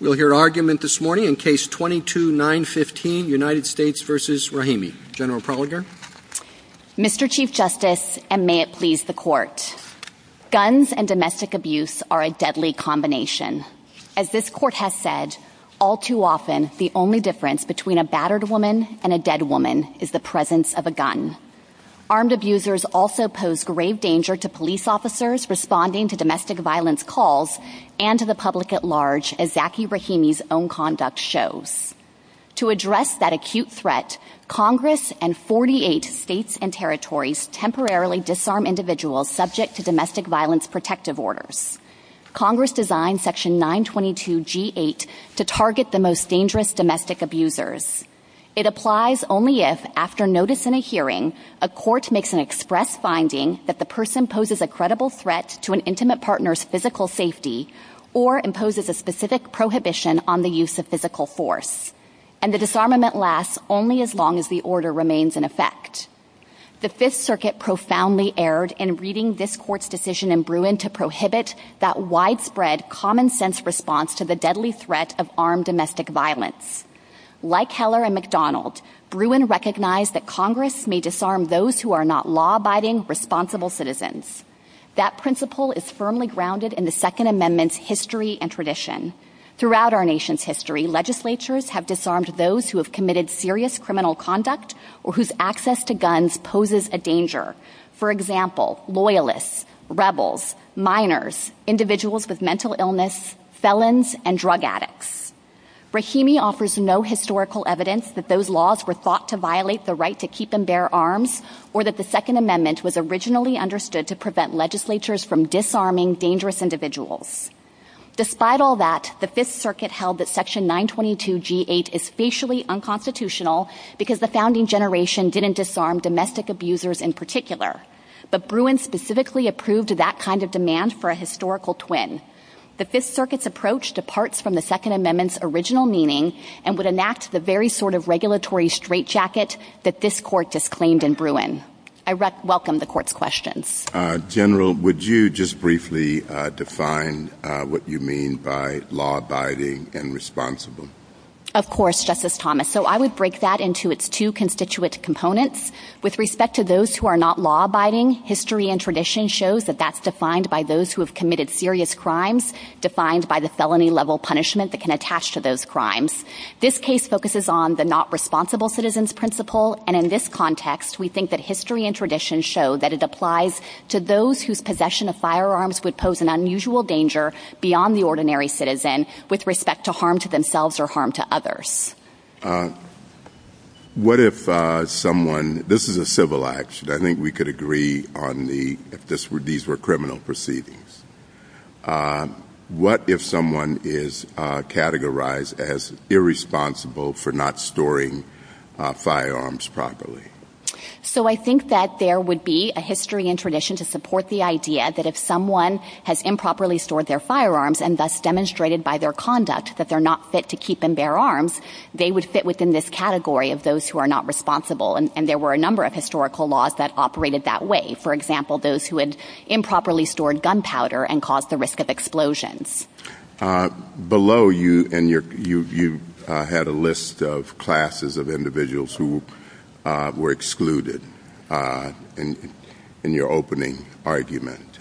We'll hear argument this morning in Case 22-915, United States v. Rahimi. General Prologar. Mr. Chief Justice, and may it please the Court. Guns and domestic abuse are a deadly combination. As this Court has said, all too often the only difference between a battered woman and a dead woman is the presence of a gun. Armed abusers also pose grave danger to police officers responding to domestic violence calls and to the public at large, as Zaki Rahimi's own conduct shows. To address that acute threat, Congress and 48 states and territories temporarily disarm individuals subject to domestic violence protective orders. Congress designed Section 922G8 to target the most dangerous domestic abusers. It applies only if, after notice in a hearing, a court makes an express finding that the person poses a credible threat to an intimate partner's physical safety or imposes a specific prohibition on the use of physical force. And the disarmament lasts only as long as the order remains in effect. The Fifth Circuit profoundly erred in reading this Court's decision in Bruin to prohibit that widespread, common-sense response to the deadly threat of armed domestic violence. Like Heller and McDonald, Bruin recognized that Congress may disarm those who are not law-abiding, responsible citizens. That principle is firmly grounded in the Second Amendment's history and tradition. Throughout our nation's history, legislatures have disarmed those who have committed serious criminal conduct or whose access to guns poses a danger. For example, loyalists, rebels, minors, individuals with mental illness, felons, and drug addicts. Brahimi offers no historical evidence that those laws were thought to violate the right to keep and bear arms or that the Second Amendment was originally understood to prevent legislatures from disarming dangerous individuals. Despite all that, the Fifth Circuit held that Section 922G8 is facially unconstitutional because the founding generation didn't disarm domestic abusers in particular. But Bruin specifically approved that kind of demand for a historical twin. The Fifth Circuit's approach departs from the Second Amendment's original meaning and would enact the very sort of regulatory straitjacket that this Court just claimed in Bruin. I welcome the Court's questions. General, would you just briefly define what you mean by law-abiding and responsible? Of course, Justice Thomas. So I would break that into its two constituent components. With respect to those who are not law-abiding, history and tradition shows that that's defined by those who have committed serious crimes, defined by the felony-level punishment that can attach to those crimes. This case focuses on the not-responsible-citizens principle, and in this context, we think that history and tradition show that it applies to those whose possession of firearms would pose an unusual danger beyond the ordinary citizen with respect to harm to themselves or harm to others. This is a civil action. I think we could agree on these were criminal proceedings. What if someone is categorized as irresponsible for not storing firearms properly? So I think that there would be a history and tradition to support the idea that if someone has improperly stored their firearms and thus demonstrated by their conduct that they're not fit to keep and bear arms, they would fit within this category of those who are not responsible, and there were a number of historical laws that operated that way. For example, those who had improperly stored gunpowder and caused the risk of explosions. Below, you had a list of classes of individuals who were excluded in your opening argument.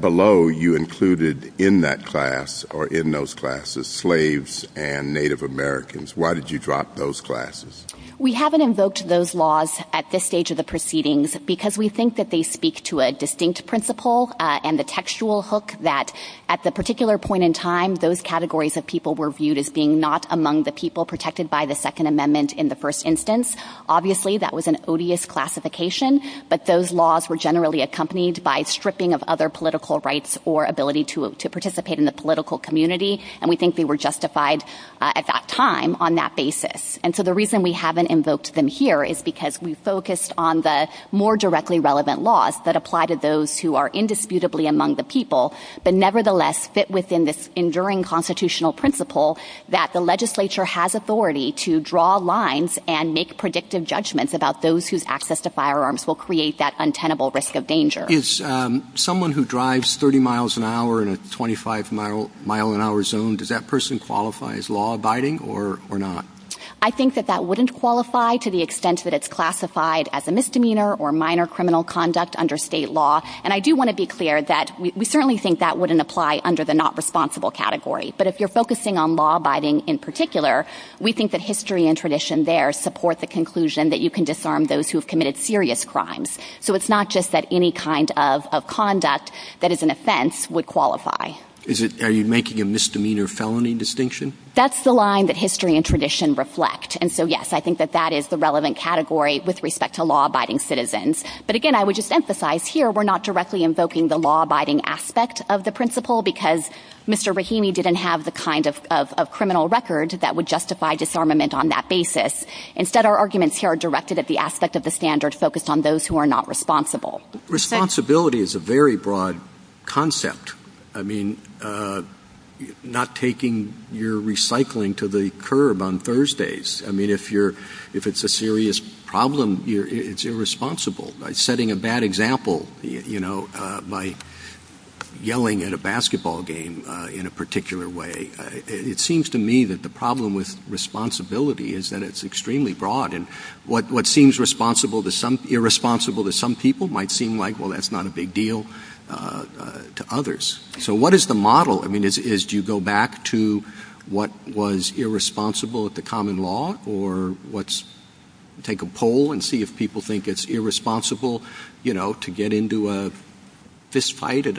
Below, you included in that class or in those classes slaves and Native Americans. Why did you drop those classes? We haven't invoked those laws at this stage of the proceedings because we think that they speak to a distinct principle and the textual hook that at the particular point in time, those categories of people were viewed as being not among the people protected by the Second Amendment in the first instance. Obviously, that was an odious classification, but those laws were generally accompanied by stripping of other political rights or ability to participate in the political community, and we think they were justified at that time on that basis. And so the reason we haven't invoked them here is because we focused on the more directly relevant laws that apply to those who are indisputably among the people, but nevertheless fit within this enduring constitutional principle that the legislature has authority to draw lines and make predictive judgments about those whose access to firearms will create that untenable risk of danger. Is someone who drives 30 miles an hour in a 25-mile-an-hour zone, does that person qualify as law-abiding or not? I think that that wouldn't qualify to the extent that it's classified as a misdemeanor or minor criminal conduct under state law, and I do want to be clear that we certainly think that wouldn't apply under the not responsible category, but if you're focusing on law-abiding in particular, we think that history and tradition there support the conclusion that you can disarm those who have committed serious crimes. So it's not just that any kind of conduct that is an offense would qualify. Are you making a misdemeanor felony distinction? That's the line that history and tradition reflect, and so yes, I think that that is the relevant category with respect to law-abiding citizens. But again, I would just emphasize here we're not directly invoking the law-abiding aspect of the principle because Mr. Rahimi didn't have the kind of criminal record that would justify disarmament on that basis. Instead, our arguments here are directed at the aspect of the standard focused on those who are not responsible. Responsibility is a very broad concept. I mean, not taking your recycling to the curb on Thursdays. I mean, if it's a serious problem, it's irresponsible. Setting a bad example, you know, like yelling at a basketball game in a particular way, it seems to me that the problem with responsibility is that it's extremely broad, and what seems irresponsible to some people might seem like, well, that's not a big deal to others. So what is the model? I mean, do you go back to what was irresponsible at the common law, or let's take a poll and see if people think it's irresponsible, you know, to get into a fistfight at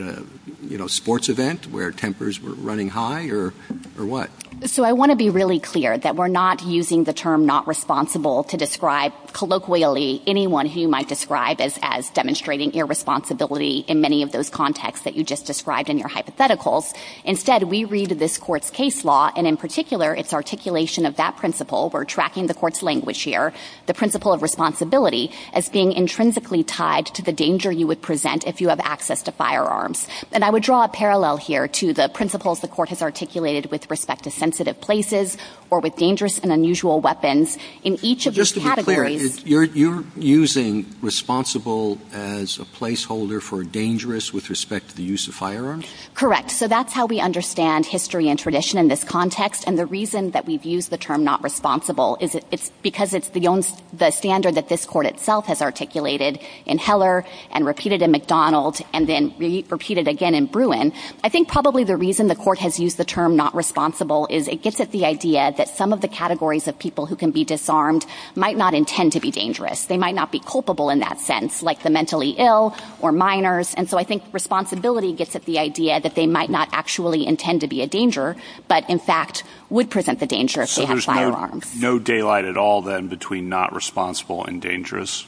a, you know, sports event where tempers were running high, or what? So I want to be really clear that we're not using the term not responsible to describe colloquially anyone who you might describe as demonstrating irresponsibility in many of those contexts that you just described in your hypotheticals. Instead, we read this court's case law, and in particular, it's articulation of that principle. We're tracking the court's language here, the principle of responsibility, as being intrinsically tied to the danger you would present if you have access to firearms. And I would draw a parallel here to the principles the court has articulated with respect to sensitive places or with dangerous and unusual weapons in each of these categories. Just to be clear, you're using responsible as a placeholder for dangerous with respect to the use of firearms? Correct. So that's how we understand history and tradition in this context. And the reason that we've used the term not responsible is because it's the standard that this court itself has articulated in Heller and repeated in McDonald and then repeated again in Bruin. I think probably the reason the court has used the term not responsible is it gets at the idea that some of the categories of people who can be disarmed might not intend to be dangerous. They might not be culpable in that sense, like the mentally ill or minors. And so I think responsibility gets at the idea that they might not actually intend to be a danger, but in fact would present the danger if they had firearms. So there's no daylight at all then between not responsible and dangerous?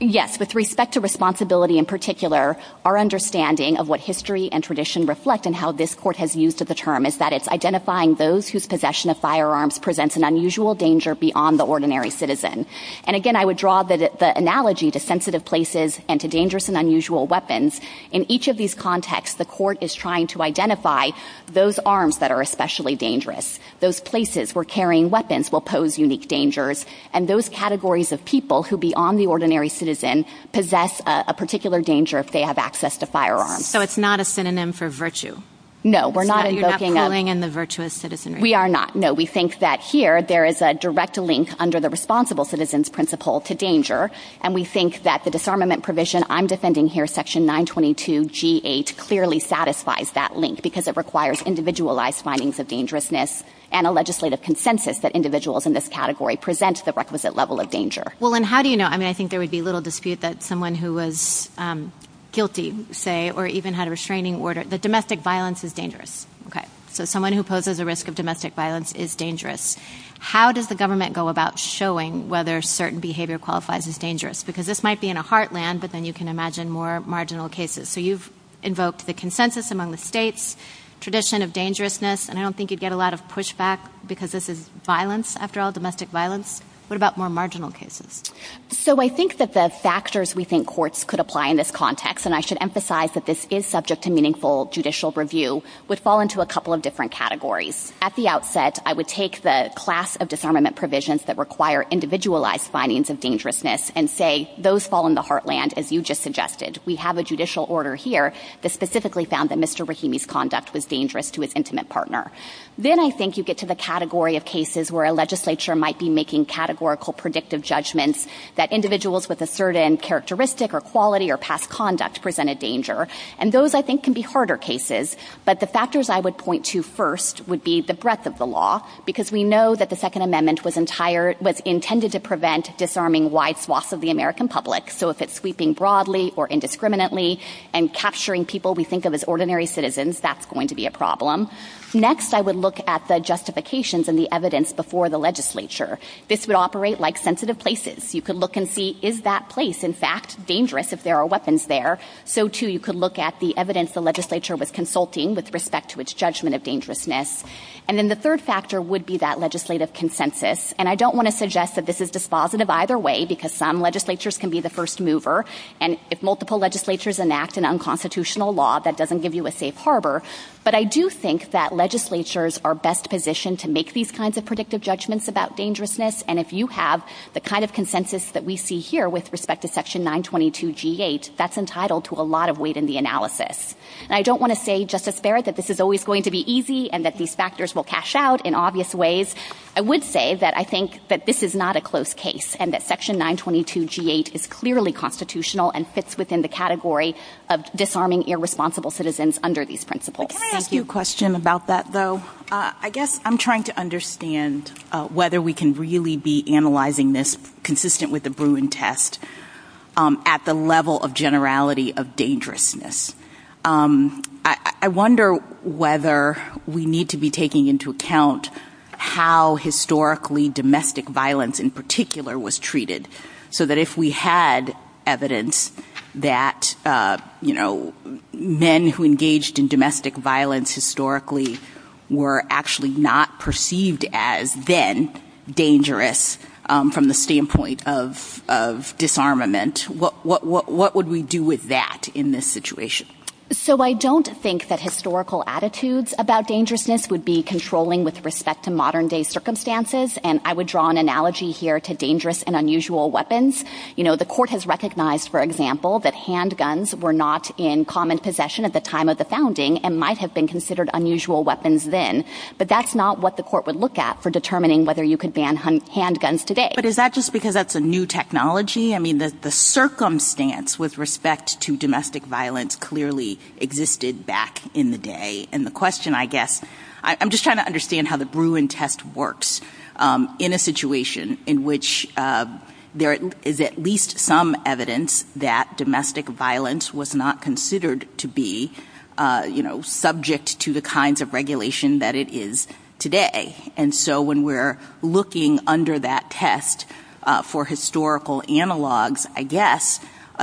Yes. With respect to responsibility in particular, our understanding of what history and tradition reflect and how this court has used the term is that it's identifying those whose possession of firearms presents an unusual danger beyond the ordinary citizen. And again, I would draw the analogy to sensitive places and to dangerous and unusual weapons. In each of these contexts, the court is trying to identify those arms that are especially dangerous, those places where carrying weapons will pose unique dangers, and those categories of people who beyond the ordinary citizen possess a particular danger if they have access to firearms. So it's not a synonym for virtue? No, we're not invoking that. You're not throwing in the virtuous citizenry? We are not, no. We think that here there is a direct link under the responsible citizen's principle to danger, and we think that the disarmament provision I'm defending here, section 922G8, clearly satisfies that link because it requires individualized findings of dangerousness and a legislative consensus that individuals in this category present the requisite level of danger. Well, and how do you know? I mean, I think there would be little dispute that someone who was guilty, say, or even had a restraining order, that domestic violence is dangerous. Okay. So someone who poses a risk of domestic violence is dangerous. How does the government go about showing whether certain behavior qualifies as dangerous? Because this might be in a heartland, but then you can imagine more marginal cases. So you've invoked the consensus among the states, tradition of dangerousness, and I don't think you'd get a lot of pushback because this is violence, after all, domestic violence. What about more marginal cases? So I think that the factors we think courts could apply in this context, and I should emphasize that this is subject to meaningful judicial review, would fall into a couple of different categories. At the outset, I would take the class of disarmament provisions that require individualized findings of dangerousness and say those fall in the heartland, as you just suggested. We have a judicial order here that specifically found that Mr. Rahimi's conduct was dangerous to his intimate partner. Then I think you get to the category of cases where a legislature might be making categorical predictive judgments that individuals with a certain characteristic or quality or past conduct present a danger, and those, I think, can be harder cases. But the factors I would point to first would be the breadth of the law, because we know that the Second Amendment was intended to prevent disarming wide swaths of the American public. So if it's sweeping broadly or indiscriminately and capturing people we think of as ordinary citizens, that's going to be a problem. Next, I would look at the justifications and the evidence before the legislature. This would operate like sensitive places. You could look and see, is that place, in fact, dangerous if there are weapons there? So, too, you could look at the evidence the legislature was consulting with respect to its judgment of dangerousness. And then the third factor would be that legislative consensus, and I don't want to suggest that this is dispositive either way, because some legislatures can be the first mover, and if multiple legislatures enact an unconstitutional law, that doesn't give you a safe harbor. But I do think that legislatures are best positioned to make these kinds of predictive judgments about dangerousness, and if you have the kind of consensus that we see here with respect to Section 922G8, that's entitled to a lot of weight in the analysis. And I don't want to say, Justice Barrett, that this is always going to be easy and that these factors will cash out in obvious ways. I would say that I think that this is not a close case and that Section 922G8 is clearly constitutional and fits within the category of disarming irresponsible citizens under these principles. Can I ask you a question about that, though? I guess I'm trying to understand whether we can really be analyzing this consistent with the Bruin test at the level of generality of dangerousness. I wonder whether we need to be taking into account how historically domestic violence in particular was treated so that if we had evidence that men who engaged in domestic violence historically were actually not perceived as then dangerous from the standpoint of disarmament, what would we do with that in this situation? So I don't think that historical attitudes about dangerousness would be controlling with respect to modern-day circumstances, and I would draw an analogy here to dangerous and unusual weapons. The court has recognized, for example, that handguns were not in common possession at the time of the founding and might have been considered unusual weapons then, but that's not what the court would look at for determining whether you could ban handguns today. But is that just because that's a new technology? I mean, the circumstance with respect to domestic violence clearly existed back in the day. And the question, I guess, I'm just trying to understand how the Bruin test works in a situation in which there is at least some evidence that domestic violence was not considered to be, you know, subject to the kinds of regulation that it is today. And so when we're looking under that test for historical analogs, I guess,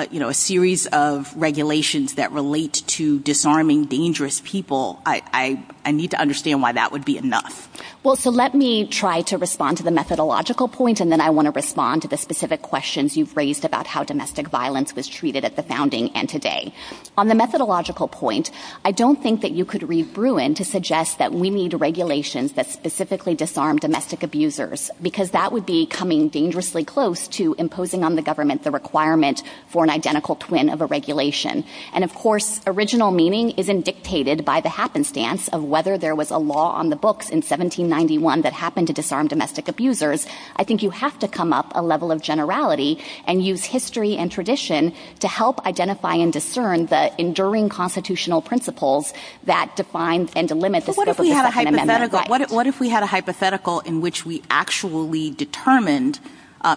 you know, a series of regulations that relate to disarming dangerous people, I need to understand why that would be enough. Well, so let me try to respond to the methodological point, and then I want to respond to the specific questions you've raised about how domestic violence was treated at the founding and today. On the methodological point, I don't think that you could read Bruin to suggest that we need regulations that specifically disarm domestic abusers, because that would be coming dangerously close to imposing on the government the requirement for an identical twin of a regulation. And, of course, original meaning isn't dictated by the happenstance of whether there was a law on the books in 1791 that happened to disarm domestic abusers. I think you have to come up a level of generality and use history and tradition to help identify and discern the enduring constitutional principles that define and delimit the scope of the Second Amendment of life. What if we had a hypothetical in which we actually determined,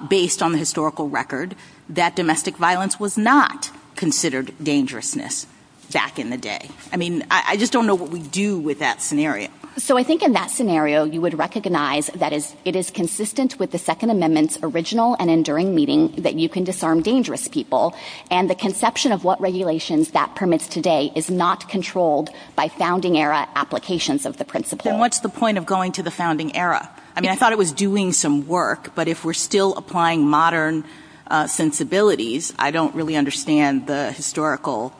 based on the historical record, that domestic violence was not considered dangerousness back in the day? I mean, I just don't know what we'd do with that scenario. So I think in that scenario, you would recognize that it is consistent with the Second Amendment's original and enduring meaning that you can disarm dangerous people, and the conception of what regulations that permits today is not controlled by founding-era applications of the principles. And what's the point of going to the founding era? I mean, I thought it was doing some work, but if we're still applying modern sensibilities, I don't really understand the historical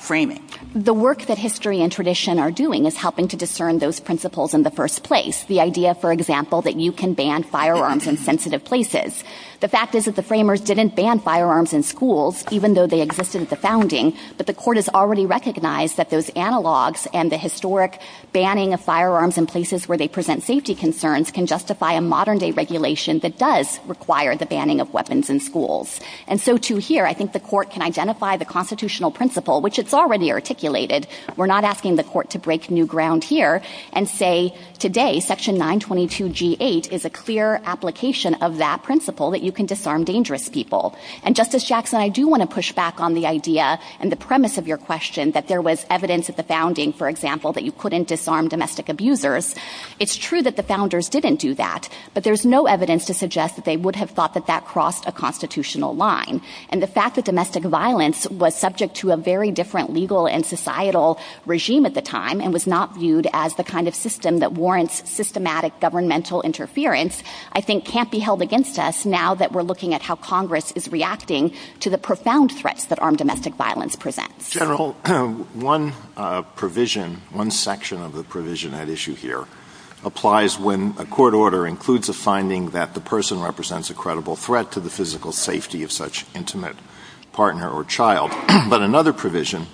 framing. The work that history and tradition are doing is helping to discern those principles in the first place. The idea, for example, that you can ban firearms in sensitive places. The fact is that the framers didn't ban firearms in schools, even though they existed at the founding, but the court has already recognized that those analogs and the historic banning of firearms in places where they present safety concerns can justify a modern-day regulation that does require the banning of weapons in schools. And so to here, I think the court can identify the constitutional principle, which it's already articulated. We're not asking the court to break new ground here and say, today, Section 922G8 is a clear application of that principle, that you can disarm dangerous people. And Justice Jackson, I do want to push back on the idea and the premise of your question that there was evidence at the founding, for example, that you couldn't disarm domestic abusers. It's true that the founders didn't do that, but there's no evidence to suggest that they would have thought that that crossed a constitutional line. And the fact that domestic violence was subject to a very different legal and societal regime at the time and was not viewed as the kind of system that warrants systematic governmental interference, I think can't be held against us now that we're looking at how Congress is reacting to the profound threats that armed domestic violence presents. General, one provision, one section of the provision at issue here, applies when a court order includes a finding that the person represents a credible threat to the physical safety of such intimate partner or child. But another provision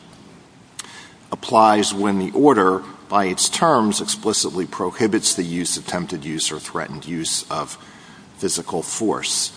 applies when the order, by its terms, explicitly prohibits the use, attempted use, or threatened use of physical force.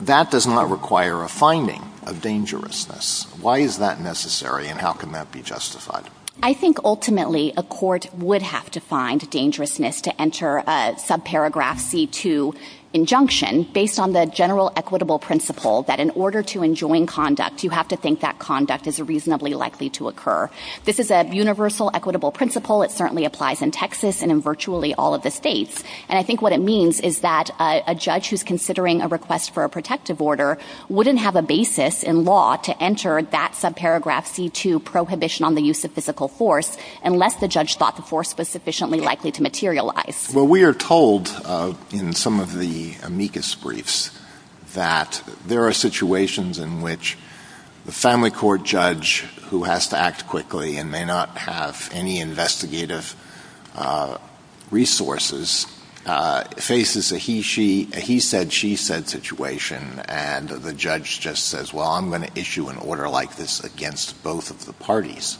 That does not require a finding of dangerousness. Why is that necessary and how can that be justified? I think ultimately a court would have to find dangerousness to enter a subparagraph C2 injunction based on the general equitable principle that in order to enjoin conduct, you have to think that conduct is reasonably likely to occur. This is a universal equitable principle. It certainly applies in Texas and in virtually all of the states. And I think what it means is that a judge who's considering a request for a protective order wouldn't have a basis in law to enter that subparagraph C2 prohibition on the use of physical force unless the judge thought the force was sufficiently likely to materialize. Well, we are told in some of the amicus briefs that there are situations in which the family court judge who has to act quickly and may not have any investigative resources faces a he-said-she-said situation and the judge just says, well, I'm going to issue an order like this against both of the parties.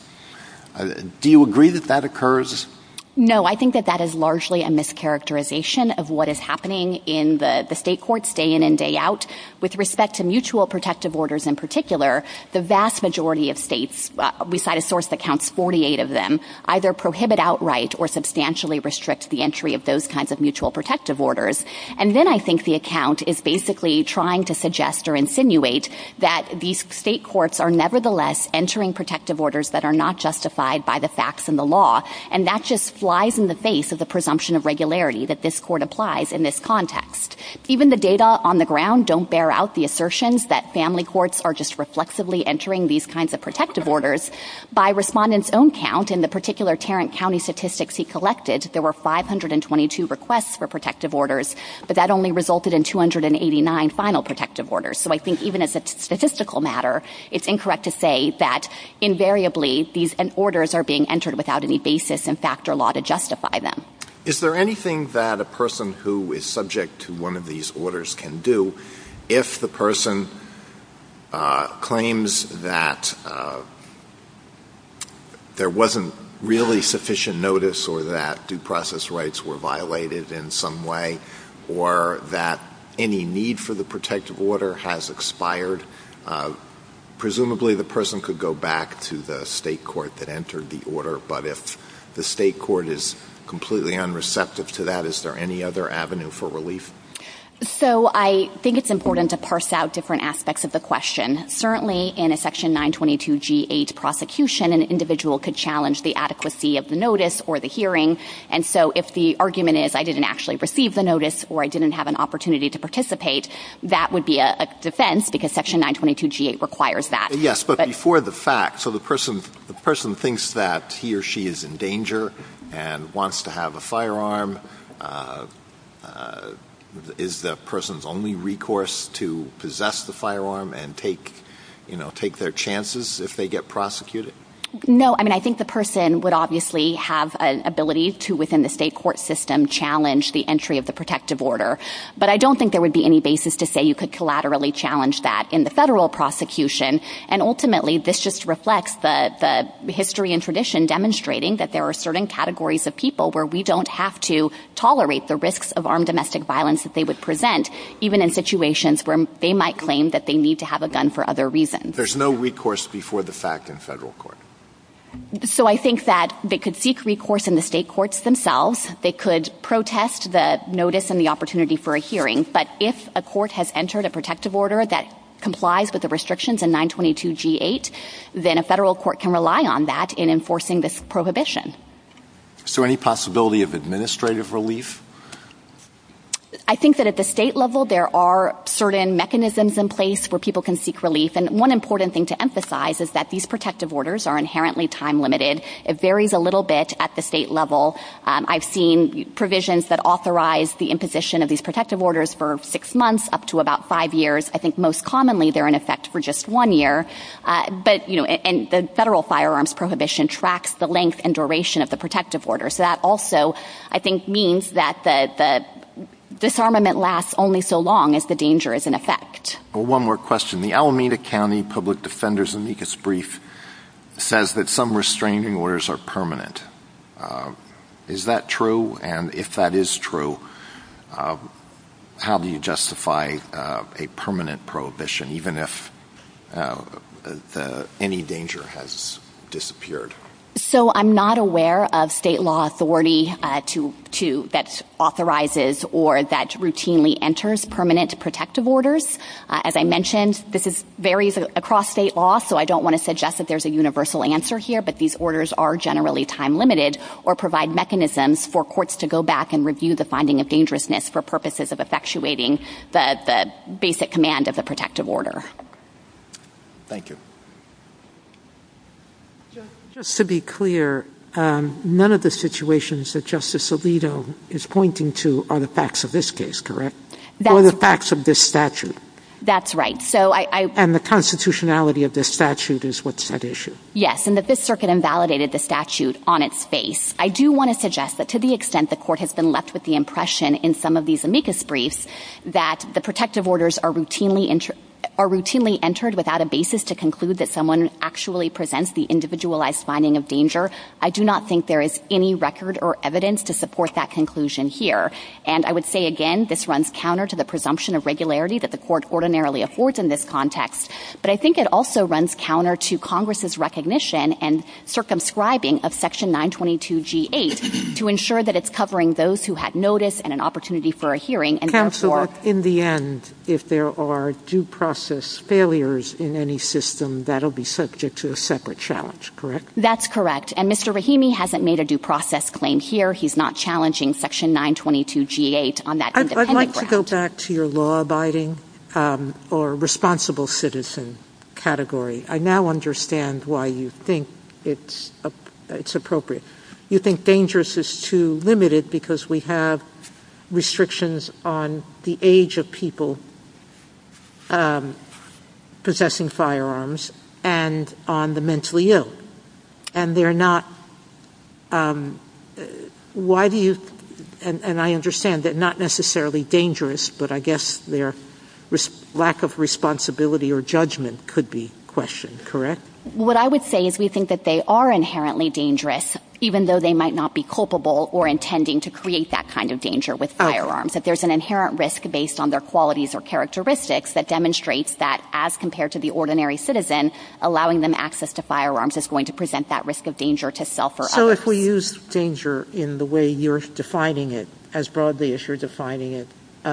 Do you agree that that occurs? No, I think that that is largely a mischaracterization of what is happening in the state courts day in and day out. With respect to mutual protective orders in particular, the vast majority of states, we cite a source that counts 48 of them, either prohibit outright or substantially restrict the entry of those kinds of mutual protective orders. And then I think the account is basically trying to suggest or insinuate that these state courts are nevertheless entering protective orders that are not justified by the facts and the law. And that just flies in the face of the presumption of regularity that this court applies in this context. Even the data on the ground don't bear out the assertions that family courts are just reflexively entering these kinds of protective orders. By respondents' own count, in the particular Tarrant County statistics he collected, there were 522 requests for protective orders, but that only resulted in 289 final protective orders. So I think even as a statistical matter, it's incorrect to say that invariably these orders are being entered without any basis in fact or law to justify them. Is there anything that a person who is subject to one of these orders can do if the person claims that there wasn't really sufficient notice or that due process rights were violated in some way or that any need for the protective order has expired? Presumably the person could go back to the state court that entered the order, but if the state court is completely unreceptive to that, is there any other avenue for relief? So I think it's important to parse out different aspects of the question. Certainly in a Section 922G8 prosecution, an individual could challenge the adequacy of the notice or the hearing. And so if the argument is I didn't actually receive the notice or I didn't have an opportunity to participate, that would be a defense because Section 922G8 requires that. Yes, but before the fact, so the person thinks that he or she is in danger and wants to have a firearm. Is the person's only recourse to possess the firearm and take their chances if they get prosecuted? No, I mean, I think the person would obviously have an ability to, within the state court system, challenge the entry of the protective order. But I don't think there would be any basis to say you could collaterally challenge that in the federal prosecution. And ultimately, this just reflects the history and tradition demonstrating that there are certain categories of people where we don't have to tolerate the risks of armed domestic violence that they would present, even in situations where they might claim that they need to have a gun for other reasons. There's no recourse before the fact in federal court. So I think that they could seek recourse in the state courts themselves. They could protest the notice and the opportunity for a hearing. But if a court has entered a protective order that complies with the restrictions in 922G8, then a federal court can rely on that in enforcing this prohibition. Is there any possibility of administrative relief? I think that at the state level, there are certain mechanisms in place where people can seek relief. And one important thing to emphasize is that these protective orders are inherently time-limited. It varies a little bit at the state level. I've seen provisions that authorize the imposition of these protective orders for six months up to about five years. I think most commonly they're in effect for just one year. But, you know, and the federal firearms prohibition tracks the length and duration of the protective order. So that also, I think, means that the disarmament lasts only so long if the danger is in effect. Well, one more question. The Alameda County Public Defender's Amicus Brief says that some restraining orders are permanent. Is that true? And if that is true, how do you justify a permanent prohibition, even if any danger has disappeared? So I'm not aware of state law authority that authorizes or that routinely enters permanent protective orders. As I mentioned, this varies across state law, so I don't want to suggest that there's a universal answer here. But these orders are generally time-limited or provide mechanisms for courts to go back and review the finding of dangerousness for purposes of effectuating the basic command of the protective order. Thank you. Just to be clear, none of the situations that Justice Alito is pointing to are the facts of this case, correct? They're the facts of this statute. That's right. And the constitutionality of this statute is what's at issue. Yes, and that this circuit invalidated the statute on its face. I do want to suggest that to the extent the court has been left with the impression in some of these Amicus Briefs that the protective orders are routinely entered without a basis to conclude that someone actually presents the individualized finding of danger, I do not think there is any record or evidence to support that conclusion here. And I would say again, this runs counter to the presumption of regularity that the court ordinarily affords in this context, but I think it also runs counter to Congress's recognition and circumscribing of Section 922G8 to ensure that it's covering those who had notice and an opportunity for a hearing, and therefore... Counsel, in the end, if there are due process failures in any system, that'll be subject to a separate challenge, correct? That's correct. And Mr. Rahimi hasn't made a due process claim here. He's not challenging Section 922G8 on that independent... I'd like to go back to your law-abiding or responsible citizen category. I now understand why you think it's appropriate. You think dangerous is too limited because we have restrictions on the age of people possessing firearms and on the mentally ill. And they're not... Why do you... And I understand they're not necessarily dangerous, but I guess their lack of responsibility or judgment could be questioned, correct? What I would say is we think that they are inherently dangerous, even though they might not be culpable or intending to create that kind of danger with firearms, that there's an inherent risk based on their qualities or characteristics that demonstrates that, as compared to the ordinary citizen, allowing them access to firearms is going to present that risk of danger to self or others. So if we use danger in the way you're defining it, as broadly as you're defining it,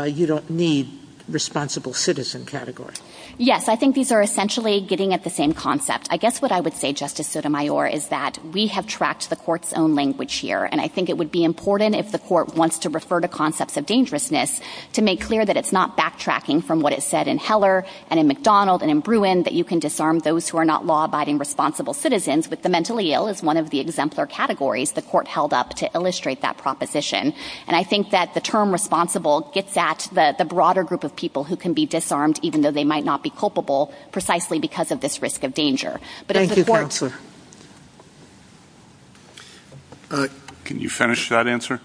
you don't need responsible citizen category? Yes, I think these are essentially getting at the same concept. I guess what I would say, Justice Sotomayor, is that we have tracked the court's own language here. And I think it would be important, if the court wants to refer to concepts of dangerousness, to make clear that it's not backtracking from what it said in Heller and in McDonald and in Bruin, that you can disarm those who are not law-abiding responsible citizens with the mentally ill as one of the exemplar categories the court held up to illustrate that proposition. And I think that the term responsible gets at the broader group of people who can be disarmed, even though they might not be culpable, precisely because of this risk of danger. Thank you, Counselor. Can you finish that answer?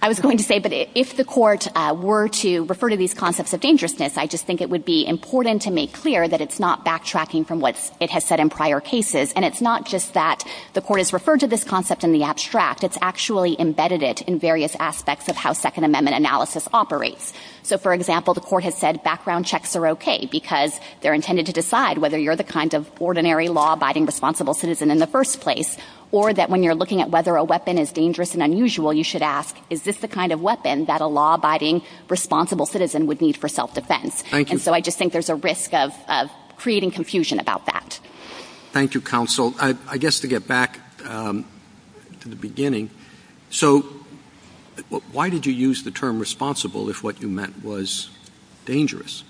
I was going to say, but if the court were to refer to these concepts of dangerousness, I just think it would be important to make clear that it's not backtracking from what it has said in prior cases. And it's not just that the court has referred to this concept in the abstract. It's actually embedded it in various aspects of how Second Amendment analysis operates. So, for example, the court has said background checks are okay because they're intended to decide whether you're the kind of ordinary law-abiding responsible citizen in the first place, or that when you're looking at whether a weapon is dangerous and unusual, you should ask, is this the kind of weapon that a law-abiding responsible citizen would need for self-defense? And so I just think there's a risk of creating confusion about that. Thank you, Counsel. I guess to get back to the beginning, so why did you use the term responsible if what you meant was dangerous?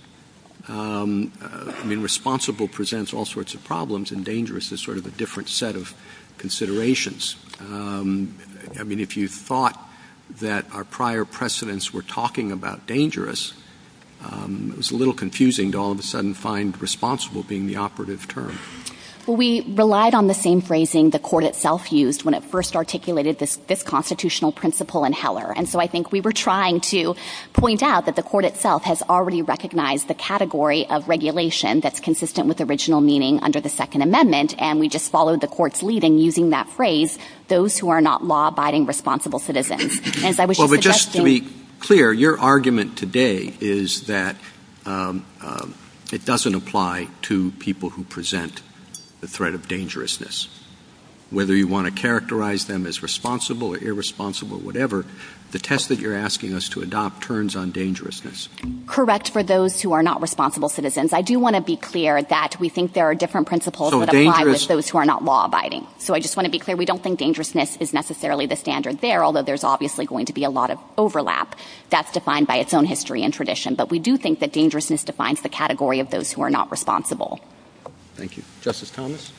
I mean, responsible presents all sorts of problems, and dangerous is sort of a different set of considerations. I mean, if you thought that our prior precedents were talking about dangerous, it's a little confusing to all of a sudden find responsible being the operative term. Well, we relied on the same phrasing the court itself used when it first articulated this constitutional principle in Heller, and so I think we were trying to point out that the court itself has already recognized the category of regulation that's consistent with original meaning under the Second Amendment, and we just followed the court's leading using that phrase, those who are not law-abiding responsible citizens. Well, but just to be clear, your argument today is that it doesn't apply to people who present the threat of dangerousness. Whether you want to characterize them as responsible or irresponsible, whatever, the test that you're asking us to adopt turns on dangerousness. Correct for those who are not responsible citizens. I do want to be clear that we think there are different principles that apply to those who are not law-abiding. So I just want to be clear, we don't think dangerousness is necessarily the standard there, although there's obviously going to be a lot of overlap. That's defined by its own history and tradition, but we do think that dangerousness defines the category of those who are not responsible. Thank you. Justice Thomas?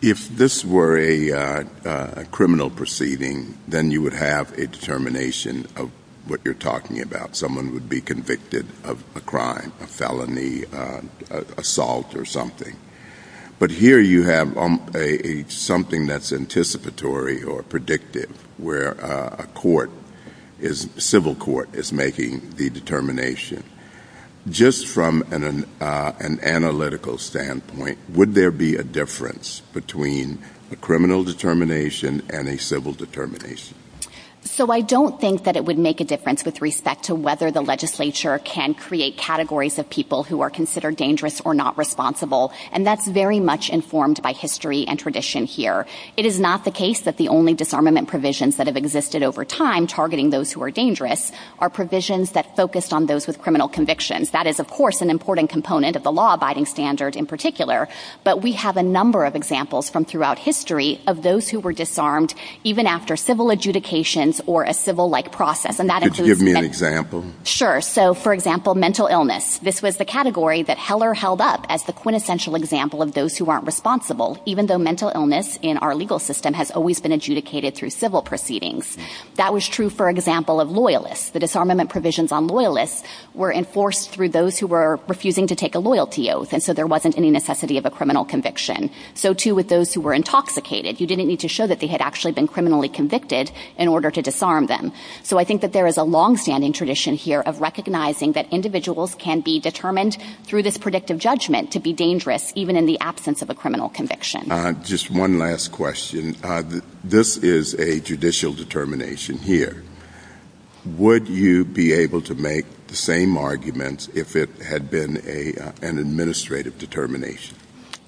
If this were a criminal proceeding, then you would have a determination of what you're talking about. Someone would be convicted of a crime, a felony, assault or something. But here you have something that's anticipatory or predictive where a court, a civil court, is making the determination. Just from an analytical standpoint, would there be a difference between a criminal determination and a civil determination? So I don't think that it would make a difference with respect to whether the legislature can create categories of people who are considered dangerous or not responsible, and that's very much informed by history and tradition here. It is not the case that the only disarmament provisions that have existed over time targeting those who are dangerous are provisions that focus on those with criminal convictions. That is, of course, an important component of the law-abiding standard in particular, but we have a number of examples from throughout history of those who were disarmed even after civil adjudications or a civil-like process. Could you give me an example? Sure. So, for example, mental illness. This was the category that Heller held up as the quintessential example of those who aren't responsible, even though mental illness in our legal system has always been adjudicated through civil proceedings. That was true, for example, of loyalists. The disarmament provisions on loyalists were enforced through those who were refusing to take a loyalty oath, and so there wasn't any necessity of a criminal conviction. So, too, with those who were intoxicated. You didn't need to show that they had actually been criminally convicted in order to disarm them. So I think that there is a long-standing tradition here of recognizing that individuals can be determined through this predictive judgment to be dangerous even in the absence of a criminal conviction. Just one last question. This is a judicial determination here. Would you be able to make the same arguments if it had been an administrative determination?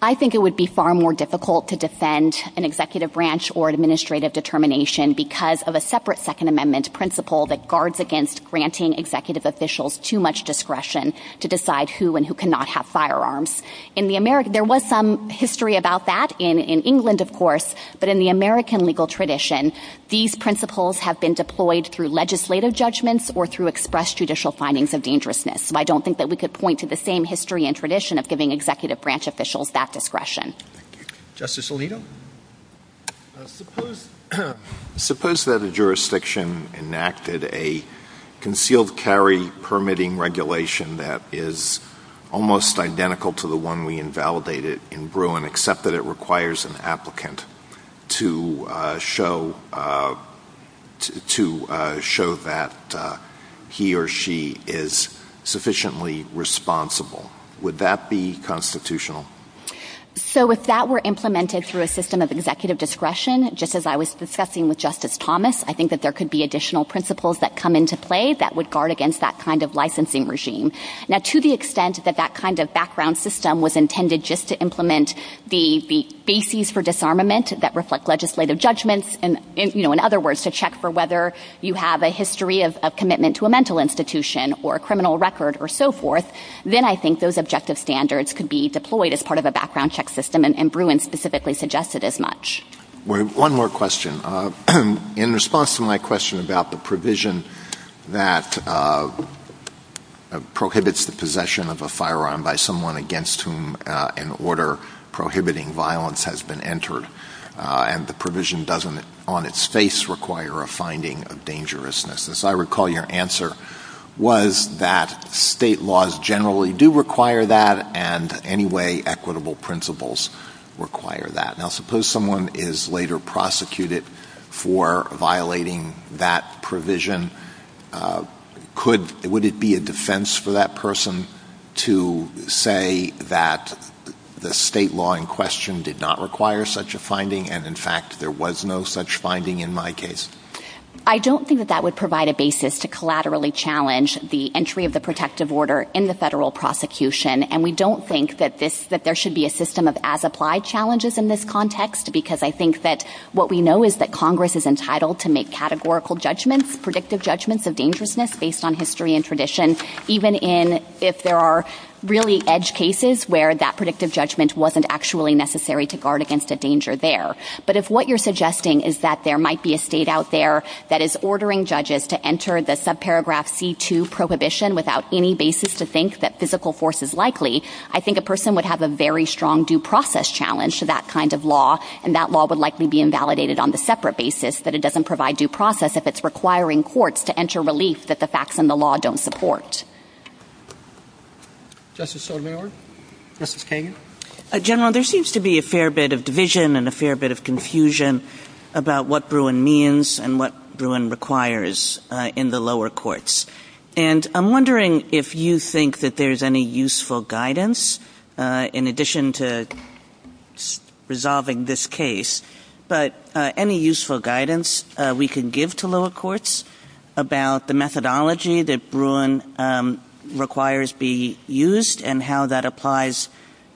I think it would be far more difficult to defend an executive branch or administrative determination because of a separate Second Amendment principle that guards against granting executive officials too much discretion to decide who and who cannot have firearms. There was some history about that in England, of course, but in the American legal tradition, these principles have been deployed through legislative judgments or through expressed judicial findings of dangerousness. So I don't think that we could point to the same history and tradition of giving executive branch officials that discretion. Justice Alito? Suppose that a jurisdiction enacted a concealed carry permitting regulation that is almost identical to the one we invalidated in Bruin, except that it requires an applicant to show that he or she is sufficiently responsible. Would that be constitutional? So if that were implemented through a system of executive discretion, just as I was discussing with Justice Thomas, I think that there could be additional principles that come into play that would guard against that kind of licensing regime. Now, to the extent that that kind of background system was intended just to implement the bases for disarmament that reflect legislative judgments, in other words, to check for whether you have a history of commitment to a mental institution or a criminal record or so forth, then I think those objective standards could be deployed as part of a background check system, and Bruin specifically suggested as much. One more question. In response to my question about the provision that prohibits the possession of a firearm by someone against whom an order prohibiting violence has been entered, and the provision doesn't on its face require a finding of dangerousness, I recall your answer was that state laws generally do require that and anyway equitable principles require that. Now, suppose someone is later prosecuted for violating that provision. Would it be a defense for that person to say that the state law in question did not require such a finding, and in fact there was no such finding in my case? I don't think that that would provide a basis to collaterally challenge the entry of the protective order in the federal prosecution, and we don't think that there should be a system of as-applied challenges in this context because I think that what we know is that Congress is entitled to make categorical judgments, predictive judgments of dangerousness based on history and tradition, even if there are really edge cases where that predictive judgment wasn't actually necessary to guard against the danger there. But if what you're suggesting is that there might be a state out there that is ordering judges to enter the subparagraph C2 prohibition without any basis to think that physical force is likely, I think a person would have a very strong due process challenge to that kind of law, and that law would likely be invalidated on the separate basis that it doesn't provide due process if it's requiring courts to enter relief that the facts in the law don't support. Justice Sotomayor? Justice Kagan? General, there seems to be a fair bit of division and a fair bit of confusion about what Bruin means and what Bruin requires in the lower courts, and I'm wondering if you think that there's any useful guidance in addition to resolving this case, but any useful guidance we can give to lower courts about the methodology that Bruin requires be used and how that applies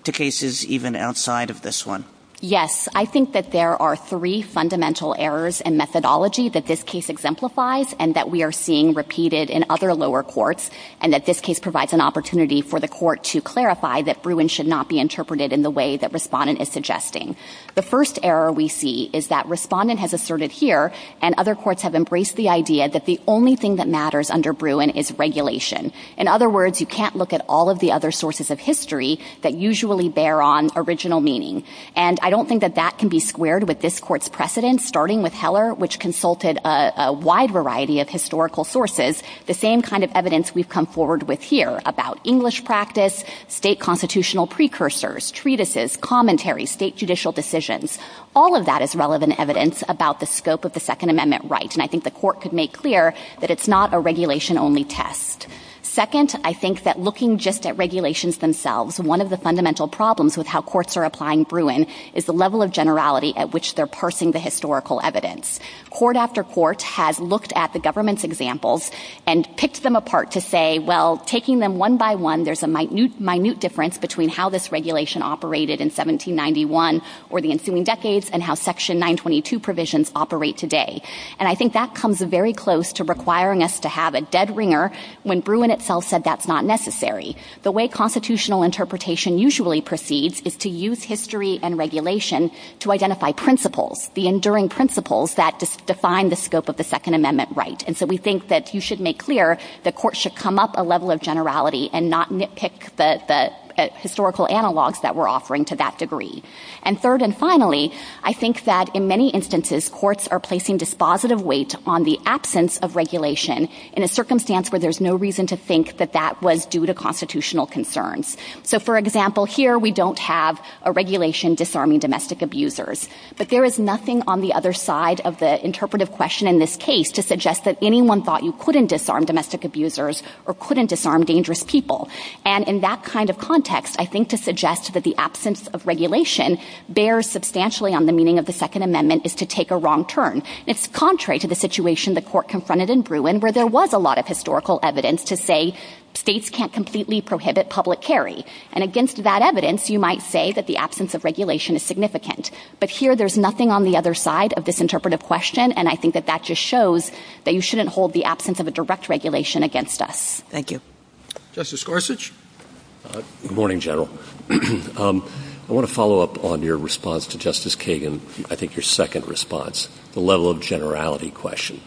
to cases even outside of this one? Yes, I think that there are three fundamental errors in methodology that this case exemplifies and that we are seeing repeated in other lower courts, and that this case provides an opportunity for the court to clarify that Bruin should not be interpreted in the way that Respondent is suggesting. The first error we see is that Respondent has asserted here and other courts have embraced the idea that the only thing that matters under Bruin is regulation. In other words, you can't look at all of the other sources of history that usually bear on original meaning. And I don't think that that can be squared with this court's precedent, starting with Heller, which consulted a wide variety of historical sources, the same kind of evidence we've come forward with here about English practice, state constitutional precursors, treatises, commentary, state judicial decisions. All of that is relevant evidence about the scope of the Second Amendment right, and I think the court could make clear that it's not a regulation-only test. Second, I think that looking just at regulations themselves, one of the fundamental problems with how courts are applying Bruin is the level of generality at which they're parsing the historical evidence. Court after court has looked at the government's examples and picked them apart to say, well, taking them one by one, there's a minute difference between how this regulation operated in 1791 or the ensuing decades and how Section 922 provisions operate today. And I think that comes very close to requiring us to have a dead ringer when Bruin itself said that's not necessary. The way constitutional interpretation usually proceeds is to use history and regulation to identify principles, the enduring principles that define the scope of the Second Amendment right. And so we think that you should make clear that courts should come up a level of generality and not nitpick the historical analogs that we're offering to that degree. And third and finally, I think that in many instances, courts are placing dispositive weight on the absence of regulation in a circumstance where there's no reason to think that that was due to constitutional concerns. So, for example, here we don't have a regulation disarming domestic abusers. But there is nothing on the other side of the interpretive question in this case to suggest that anyone thought you couldn't disarm domestic abusers or couldn't disarm dangerous people. And in that kind of context, I think to suggest that the absence of regulation bears substantially on the meaning of the Second Amendment is to take a wrong turn. It's contrary to the situation the court confronted in Bruin where there was a lot of historical evidence to say states can't completely prohibit public carry. And against that evidence, you might say that the absence of regulation is significant. But here there's nothing on the other side of this interpretive question, and I think that that just shows that you shouldn't hold the absence of a direct regulation against us. Thank you. Justice Gorsuch? Good morning, General. I want to follow up on your response to Justice Kagan, I think your second response, the level of generality question.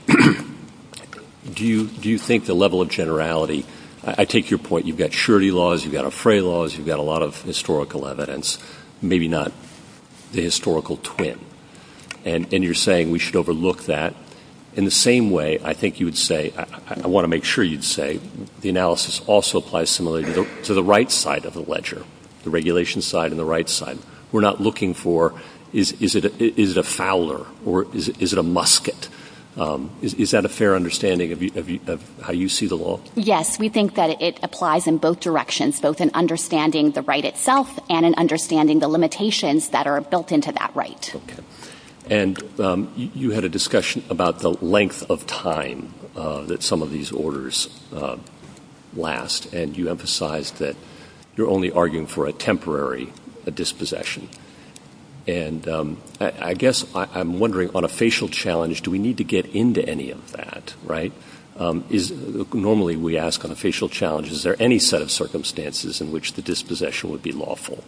Do you think the level of generality, I take your point, you've got surety laws, you've got affray laws, you've got a lot of historical evidence, maybe not the historical twin. And you're saying we should overlook that. In the same way, I think you would say, I want to make sure you'd say, the analysis also applies similarly to the right side of the ledger, the regulation side and the right side. We're not looking for, is it a fowler or is it a musket? Is that a fair understanding of how you see the law? Yes, we think that it applies in both directions, both in understanding the right itself and in understanding the limitations that are built into that right. And you had a discussion about the length of time that some of these orders last, and you emphasized that you're only arguing for a temporary dispossession. And I guess I'm wondering, on a facial challenge, do we need to get into any of that, right? Normally we ask on a facial challenge, is there any set of circumstances in which the dispossession would be lawful?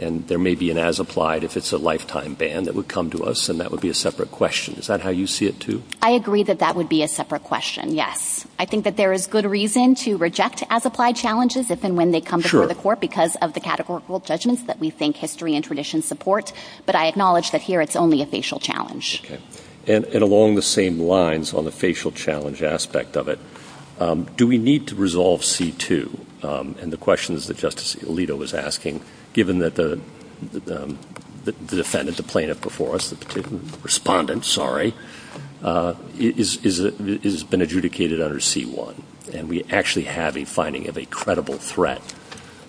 And there may be an as applied if it's a lifetime ban that would come to us, and that would be a separate question. Is that how you see it too? I agree that that would be a separate question, yes. I think that there is good reason to reject as applied challenges if and when they come before the court because of the categorical judgments that we think history and tradition support, but I acknowledge that here it's only a facial challenge. And along the same lines on the facial challenge aspect of it, do we need to resolve C-2? And the question that Justice Alito was asking, given that the defendant is a plaintiff before us, the respondent, sorry, has been adjudicated under C-1, and we actually have a finding of a credible threat.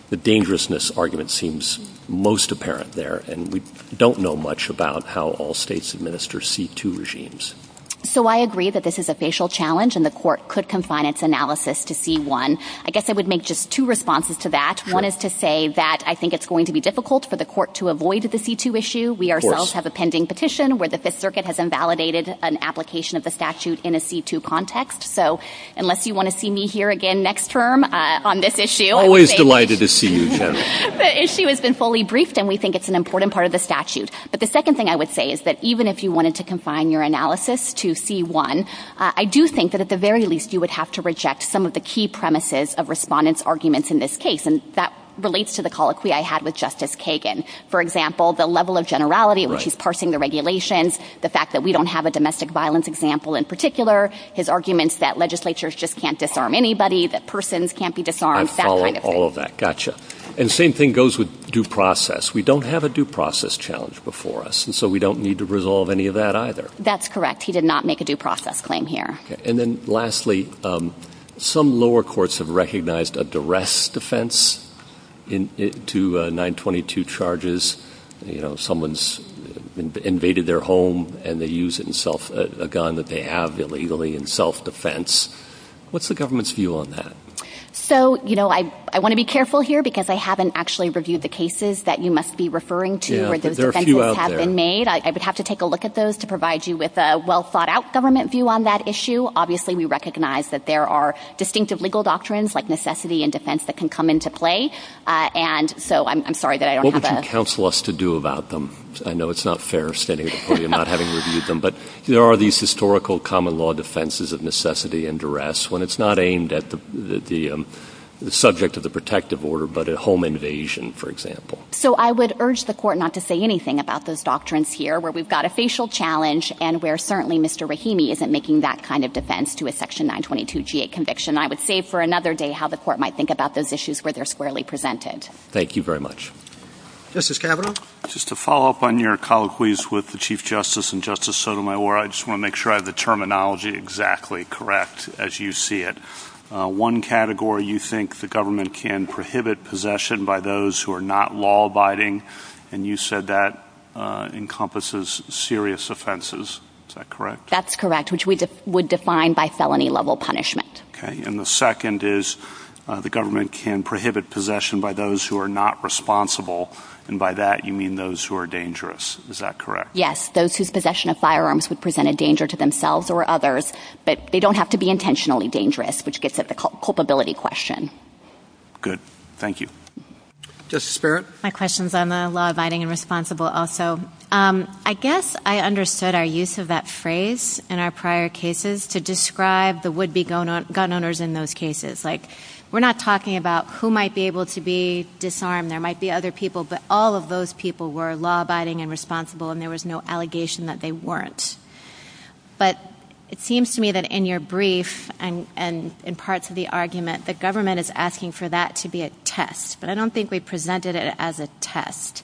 The dangerousness argument seems most apparent there, and we don't know much about how all states administer C-2 regimes. So I agree that this is a facial challenge, and the court could confine its analysis to C-1. I guess I would make just two responses to that. One is to say that I think it's going to be difficult for the court to avoid the C-2 issue. We ourselves have a pending petition where the Fifth Circuit has invalidated an application of the statute in a C-2 context. So unless you want to see me here again next term on this issue... Always delighted to see you, Tamara. The issue has been fully briefed, and we think it's an important part of the statute. But the second thing I would say is that even if you wanted to confine your analysis to C-1, I do think that at the very least you would have to reject some of the key premises of respondents' arguments in this case, and that relates to the colloquy I had with Justice Kagan. For example, the level of generality in which he's parsing the regulations, the fact that we don't have a domestic violence example in particular, his arguments that legislatures just can't disarm anybody, that persons can't be disarmed, that kind of thing. I've followed all of that. Gotcha. And the same thing goes with due process. We don't have a due process challenge before us, and so we don't need to resolve any of that either. That's correct. He did not make a due process claim here. And then lastly, some lower courts have recognized a duress defense to 922 charges. You know, someone's invaded their home, and they use a gun that they have illegally in self-defense. What's the government's view on that? So, you know, I want to be careful here because I haven't actually reviewed the cases that you must be referring to where those offenses have been made. I would have to take a look at those to provide you with a well-thought-out government view on that issue. Obviously, we recognize that there are distinctive legal doctrines like necessity and defense that can come into play, and so I'm sorry that I don't have a... What would you counsel us to do about them? I know it's not fair standing before you not having reviewed them, but there are these historical common law defenses of necessity and duress when it's not aimed at the subject of the protective order but a home invasion, for example. So I would urge the court not to say anything about those doctrines here where we've got a facial challenge and where certainly Mr. Rahimi isn't making that kind of defense to a Section 922G8 conviction. I would save for another day how the court might think about those issues where they're squarely presented. Thank you very much. Justice Kavanaugh? Just to follow up on your colloquies with the Chief Justice and Justice Sotomayor, I just want to make sure I have the terminology exactly correct as you see it. One category you think the government can prohibit possession by those who are not law-abiding, and you said that encompasses serious offenses. Is that correct? That's correct, which we would define by felony-level punishment. Okay. And the second is the government can prohibit possession by those who are not responsible, and by that you mean those who are dangerous. Is that correct? Yes, those whose possession of firearms would present a danger to themselves or others, but they don't have to be intentionally dangerous, which gets at the culpability question. Good. Thank you. Justice Barrett? My question is on the law-abiding and responsible also. I guess I understood our use of that phrase in our prior cases to describe the would-be gun owners in those cases. Like, we're not talking about who might be able to be disarmed. There might be other people, but all of those people were law-abiding and responsible, and there was no allegation that they weren't. The government is asking for that to be a test, but I don't think we presented it as a test.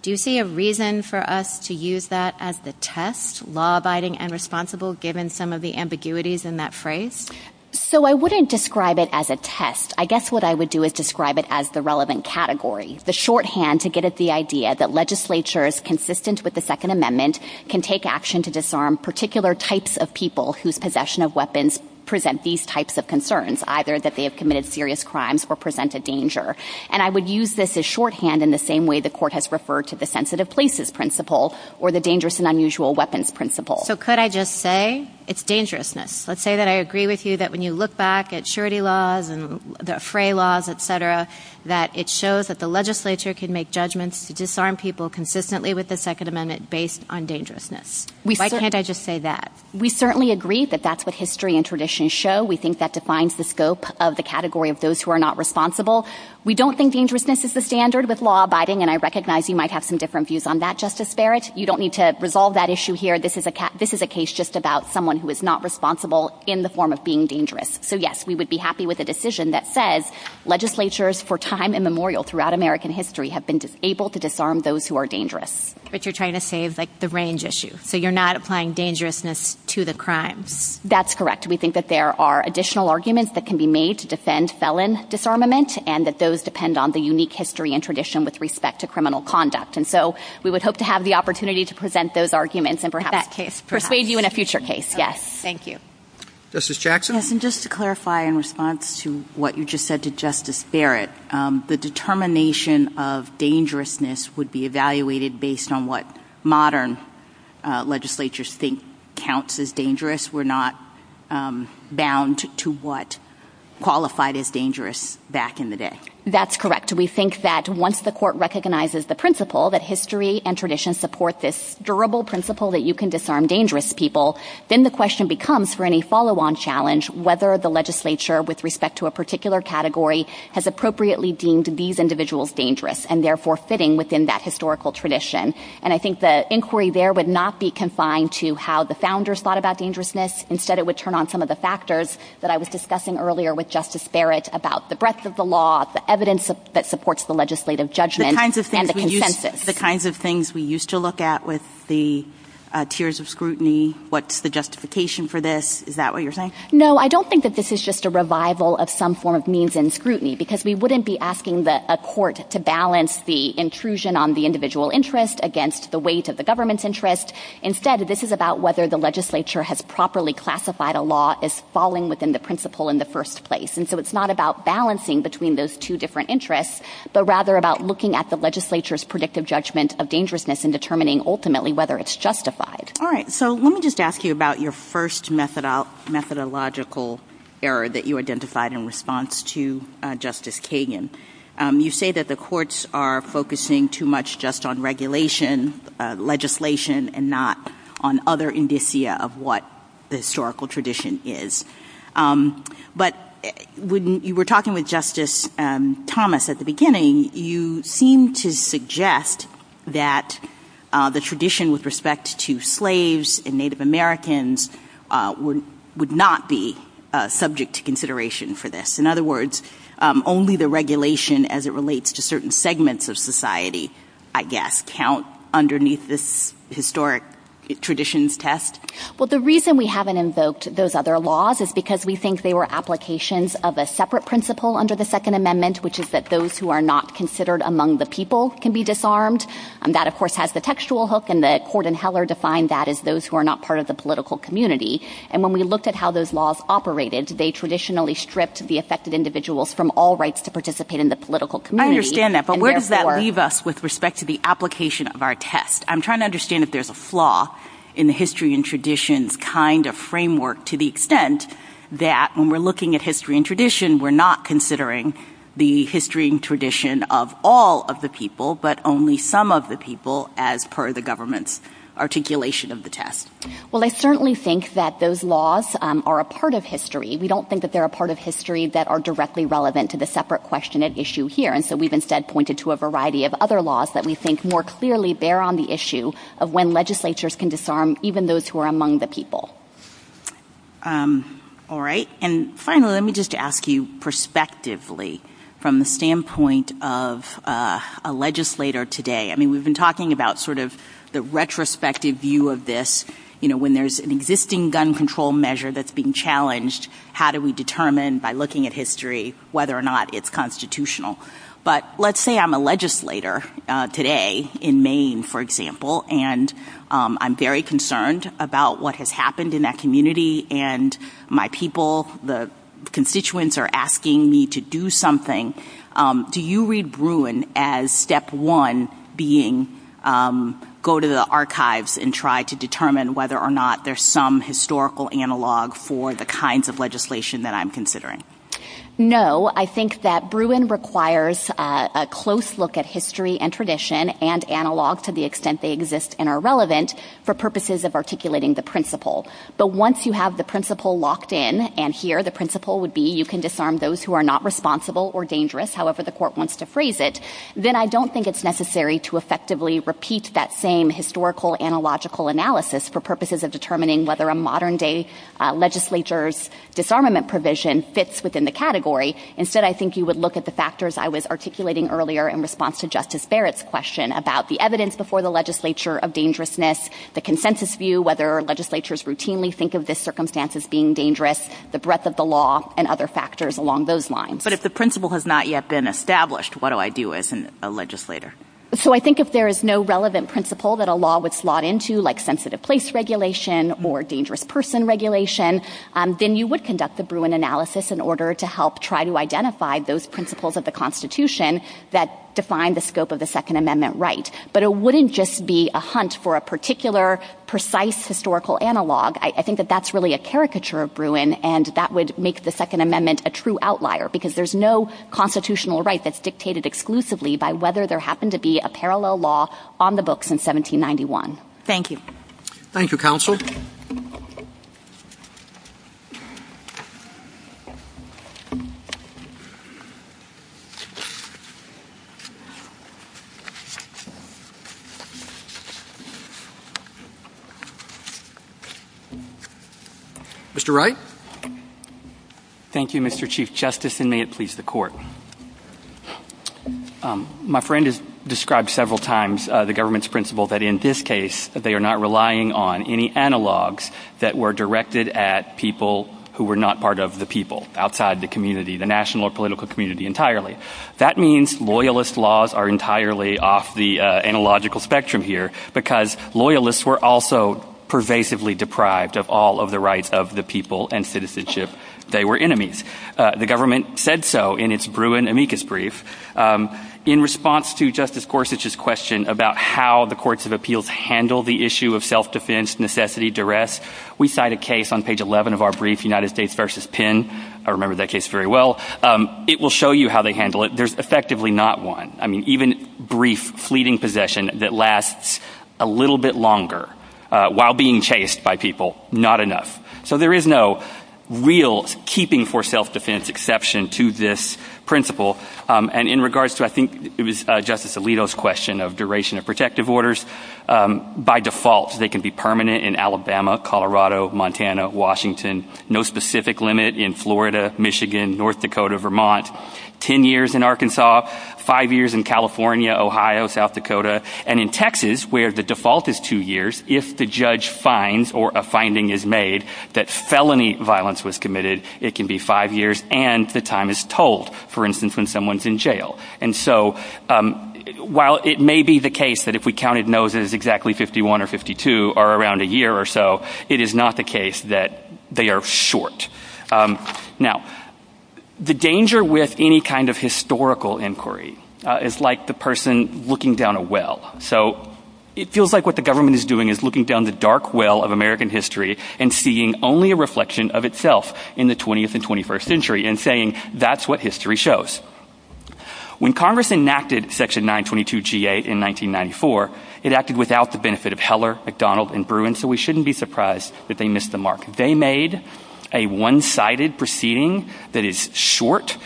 Do you see a reason for us to use that as the test, law-abiding and responsible, given some of the ambiguities in that phrase? So I wouldn't describe it as a test. I guess what I would do is describe it as the relevant category, the shorthand to get at the idea that legislatures, consistent with the Second Amendment, can take action to disarm particular types of people whose possession of weapons present these types of concerns, either that they have committed serious crimes or present a danger. And I would use this as shorthand in the same way the Court has referred to the sensitive places principle or the dangerous and unusual weapons principle. So could I just say it's dangerousness? Let's say that I agree with you that when you look back at surety laws and the fray laws, et cetera, that it shows that the legislature can make judgments to disarm people consistently with the Second Amendment based on dangerousness. Why can't I just say that? We certainly agree that that's what history and tradition show. We think that defines the scope of the category of those who are not responsible. We don't think dangerousness is the standard with law abiding, and I recognize you might have some different views on that, Justice Barrett. You don't need to resolve that issue here. This is a case just about someone who is not responsible in the form of being dangerous. So, yes, we would be happy with a decision that says legislatures for time immemorial throughout American history have been able to disarm those who are dangerous. But you're trying to save, like, the range issue. So you're not applying dangerousness to the crime. That's correct. We think that there are additional arguments that can be made to defend felon disarmament, and that those depend on the unique history and tradition with respect to criminal conduct. And so we would hope to have the opportunity to present those arguments and perhaps persuade you in a future case. Yes. Thank you. Justice Jackson? Just to clarify in response to what you just said to Justice Barrett, the determination of dangerousness would be evaluated based on what modern legislatures think counts as dangerous, because we're not bound to what qualified as dangerous back in the day. That's correct. We think that once the court recognizes the principle that history and tradition support this durable principle that you can disarm dangerous people, then the question becomes for any follow-on challenge whether the legislature, with respect to a particular category, has appropriately deemed these individuals dangerous and, therefore, fitting within that historical tradition. And I think the inquiry there would not be confined to how the founders thought about dangerousness. Instead, it would turn on some of the factors that I was discussing earlier with Justice Barrett about the breadth of the law, the evidence that supports the legislative judgment, and the consensus. The kinds of things we used to look at with the tiers of scrutiny, what's the justification for this? Is that what you're saying? No, I don't think that this is just a revival of some form of means and scrutiny, because we wouldn't be asking a court to balance the intrusion on the individual interest against the weight of the government's interest. Instead, this is about whether the legislature has properly classified a law as falling within the principle in the first place. And so it's not about balancing between those two different interests, but rather about looking at the legislature's predictive judgment of dangerousness and determining, ultimately, whether it's justified. All right, so let me just ask you about your first methodological error that you identified in response to Justice Kagan. You say that the courts are focusing too much just on regulation, legislation, and not on other indicia of what the historical tradition is. But when you were talking with Justice Thomas at the beginning, you seemed to suggest that the tradition with respect to slaves and Native Americans would not be subject to consideration for this. In other words, only the regulation as it relates to certain segments of society, I guess, count underneath this historic traditions test? Well, the reason we haven't invoked those other laws is because we think they were applications of a separate principle under the Second Amendment, which is that those who are not considered among the people can be disarmed. That, of course, has the textual hook, and the court in Heller defined that as those who are not part of the political community. And when we look at how those laws operated, they traditionally stripped the affected individuals from all rights to participate in the political community. I understand that, but where does that leave us with respect to the application of our test? I'm trying to understand if there's a flaw in the history and traditions kind of framework to the extent that when we're looking at history and tradition, we're not considering the history and tradition of all of the people, but only some of the people as per the government's articulation of the test. Well, I certainly think that those laws are a part of history. We don't think that they're a part of history that are directly relevant to the separate question at issue here. And so we've instead pointed to a variety of other laws that we think more clearly bear on the issue of when legislatures can disarm even those who are among the people. All right. And finally, let me just ask you perspectively from the standpoint of a legislator today. I mean, we've been talking about sort of the retrospective view of this. You know, when there's an existing gun control measure that's being challenged, how do we determine by looking at history whether or not it's constitutional? But let's say I'm a legislator today in Maine, for example, and I'm very concerned about what has happened in that community and my people, the constituents, are asking me to do something. Do you read Bruin as step one being go to the archives and try to determine whether or not there's some historical analog for the kinds of legislation that I'm considering? No. I think that Bruin requires a close look at history and tradition and analog to the extent they exist and are relevant for purposes of articulating the principle. But once you have the principle locked in, and here the principle would be you can disarm those who are not responsible or dangerous, however the court wants to phrase it, then I don't think it's necessary to effectively repeat that same historical analogical analysis for purposes of determining whether a modern-day legislature's disarmament provision fits within the category. Instead, I think you would look at the factors I was articulating earlier in response to Justice Barrett's question about the evidence before the legislature of dangerousness, the consensus view, whether legislatures routinely think of this circumstance as being dangerous, the breadth of the law, and other factors along those lines. But if the principle has not yet been established, what do I do as a legislator? So I think if there is no relevant principle that a law would slot into, like sensitive place regulation or dangerous person regulation, then you would conduct the Bruin analysis in order to help try to identify those principles of the Constitution that define the scope of the Second Amendment right. But it wouldn't just be a hunt for a particular precise historical analog. I think that that's really a caricature of Bruin, and that would make the Second Amendment a true outlier because there's no constitutional right that's dictated exclusively by whether there happened to be a parallel law on the books in 1791. Thank you. Thank you, Counsel. Mr. Wright. Thank you, Mr. Chief Justice, and may it please the Court. My friend has described several times the government's principle that in this case they are not relying on any analogs that were directed at people who were not part of the people outside the community, the national or political community entirely. That means loyalist laws are entirely off the analogical spectrum here because loyalists were also pervasively deprived of all of the rights of the people and citizenship they were enemies. The government said so in its Bruin amicus brief. In response to Justice Gorsuch's question about how the courts of appeals handle the issue of self-defense, necessity, duress, we cite a case on page 11 of our brief, United States v. Penn. I remember that case very well. It will show you how they handle it. There's effectively not one, I mean, even brief fleeting possession that lasts a little bit longer while being chased by people, not enough. So there is no real keeping for self-defense exception to this principle. And in regards to, I think it was Justice Alito's question of duration of protective orders, by default they can be permanent in Alabama, Colorado, Montana, Washington. No specific limit in Florida, Michigan, North Dakota, Vermont. Ten years in Arkansas. Five years in California, Ohio, South Dakota. And in Texas, where the default is two years, if the judge finds or a finding is made that felony violence was committed, it can be five years and the time is told. For instance, when someone's in jail. And so while it may be the case that if we counted noses exactly 51 or 52 or around a year or so, it is not the case that they are short. Now, the danger with any kind of historical inquiry is like the person looking down a well. So it feels like what the government is doing is looking down the dark well of American history and seeing only a reflection of itself in the 20th and 21st century and saying that's what history shows. When Congress enacted Section 922 G.A. in 1994, it acted without the benefit of Heller, McDonald, and Bruin, so we shouldn't be surprised that they missed the mark. They made a one-sided proceeding that is short,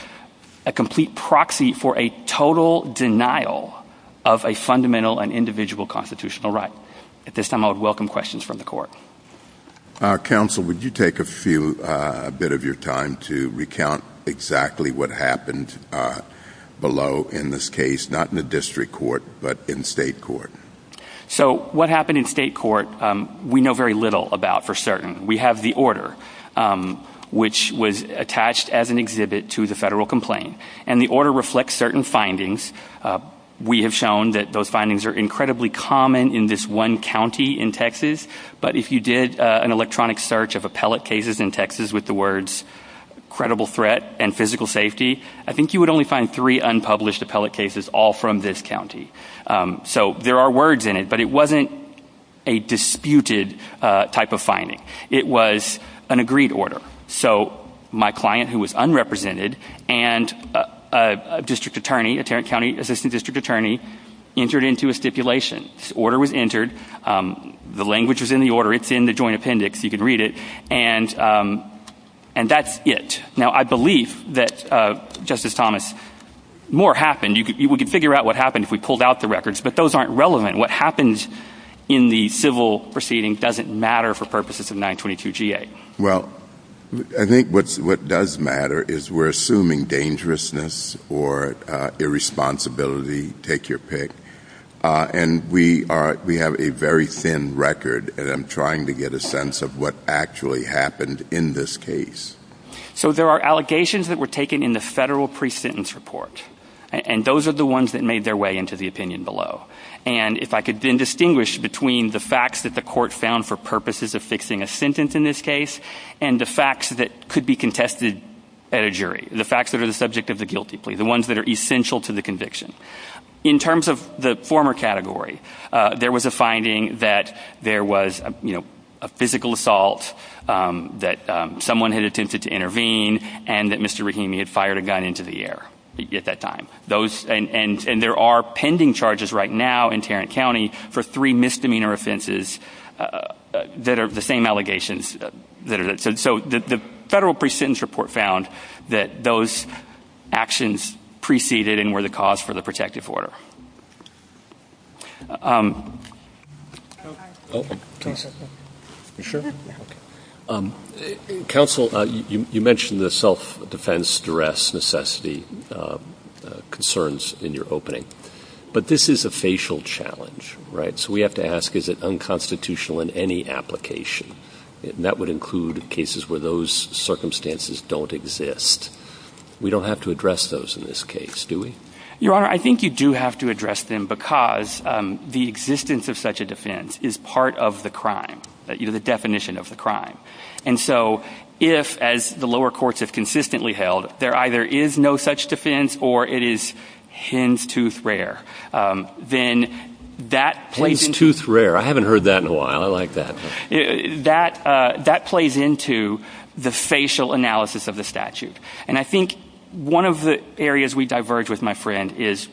a complete proxy for a total denial of a fundamental and individual constitutional right. At this time, I would welcome questions from the Court. Counsel, would you take a bit of your time to recount exactly what happened below in this case, not in the district court, but in state court? So what happened in state court, we know very little about for certain. We have the order, which was attached as an exhibit to the federal complaint. And the order reflects certain findings. We have shown that those findings are incredibly common in this one county in Texas. But if you did an electronic search of appellate cases in Texas with the words credible threat and physical safety, I think you would only find three unpublished appellate cases all from this county. So there are words in it, but it wasn't a disputed type of finding. It was an agreed order. So my client, who was unrepresented, and a district attorney, a Tarrant County assistant district attorney, entered into a stipulation. The order was entered. The language was in the order. It's in the joint appendix. You can read it. And that's it. Now, I believe that, Justice Thomas, more happened. We could figure out what happened if we pulled out the records. But those aren't relevant. What happens in the civil proceedings doesn't matter for purposes of 922-GA. Well, I think what does matter is we're assuming dangerousness or irresponsibility, take your pick. And we have a very thin record, and I'm trying to get a sense of what actually happened in this case. So there are allegations that were taken in the federal pre-sentence report, and those are the ones that made their way into the opinion below. And if I could then distinguish between the facts that the court found for purposes of fixing a sentence in this case and the facts that could be contested at a jury, the facts that are the subject of the guilty plea, the ones that are essential to the conviction. In terms of the former category, there was a finding that there was a physical assault, that someone had attempted to intervene, and that Mr. Rahimi had fired a gun into the air at that time. And there are pending charges right now in Tarrant County for three misdemeanor offenses that are the same allegations. So the federal pre-sentence report found that those actions preceded and were the cause for the protective order. You sure? Counsel, you mentioned the self-defense, duress, necessity concerns in your opening. But this is a facial challenge, right? So we have to ask, is it unconstitutional in any application? And that would include cases where those circumstances don't exist. We don't have to address those in this case, do we? Your Honor, I think you do have to address them because the existence of such a defense is part of the crime, the definition of the crime. And so if, as the lower courts have consistently held, there either is no such defense or it is hen's tooth rare, then that plays into— Hen's tooth rare. I haven't heard that in a while. I like that. That plays into the facial analysis of the statute. And I think one of the areas we diverge with, my friend, is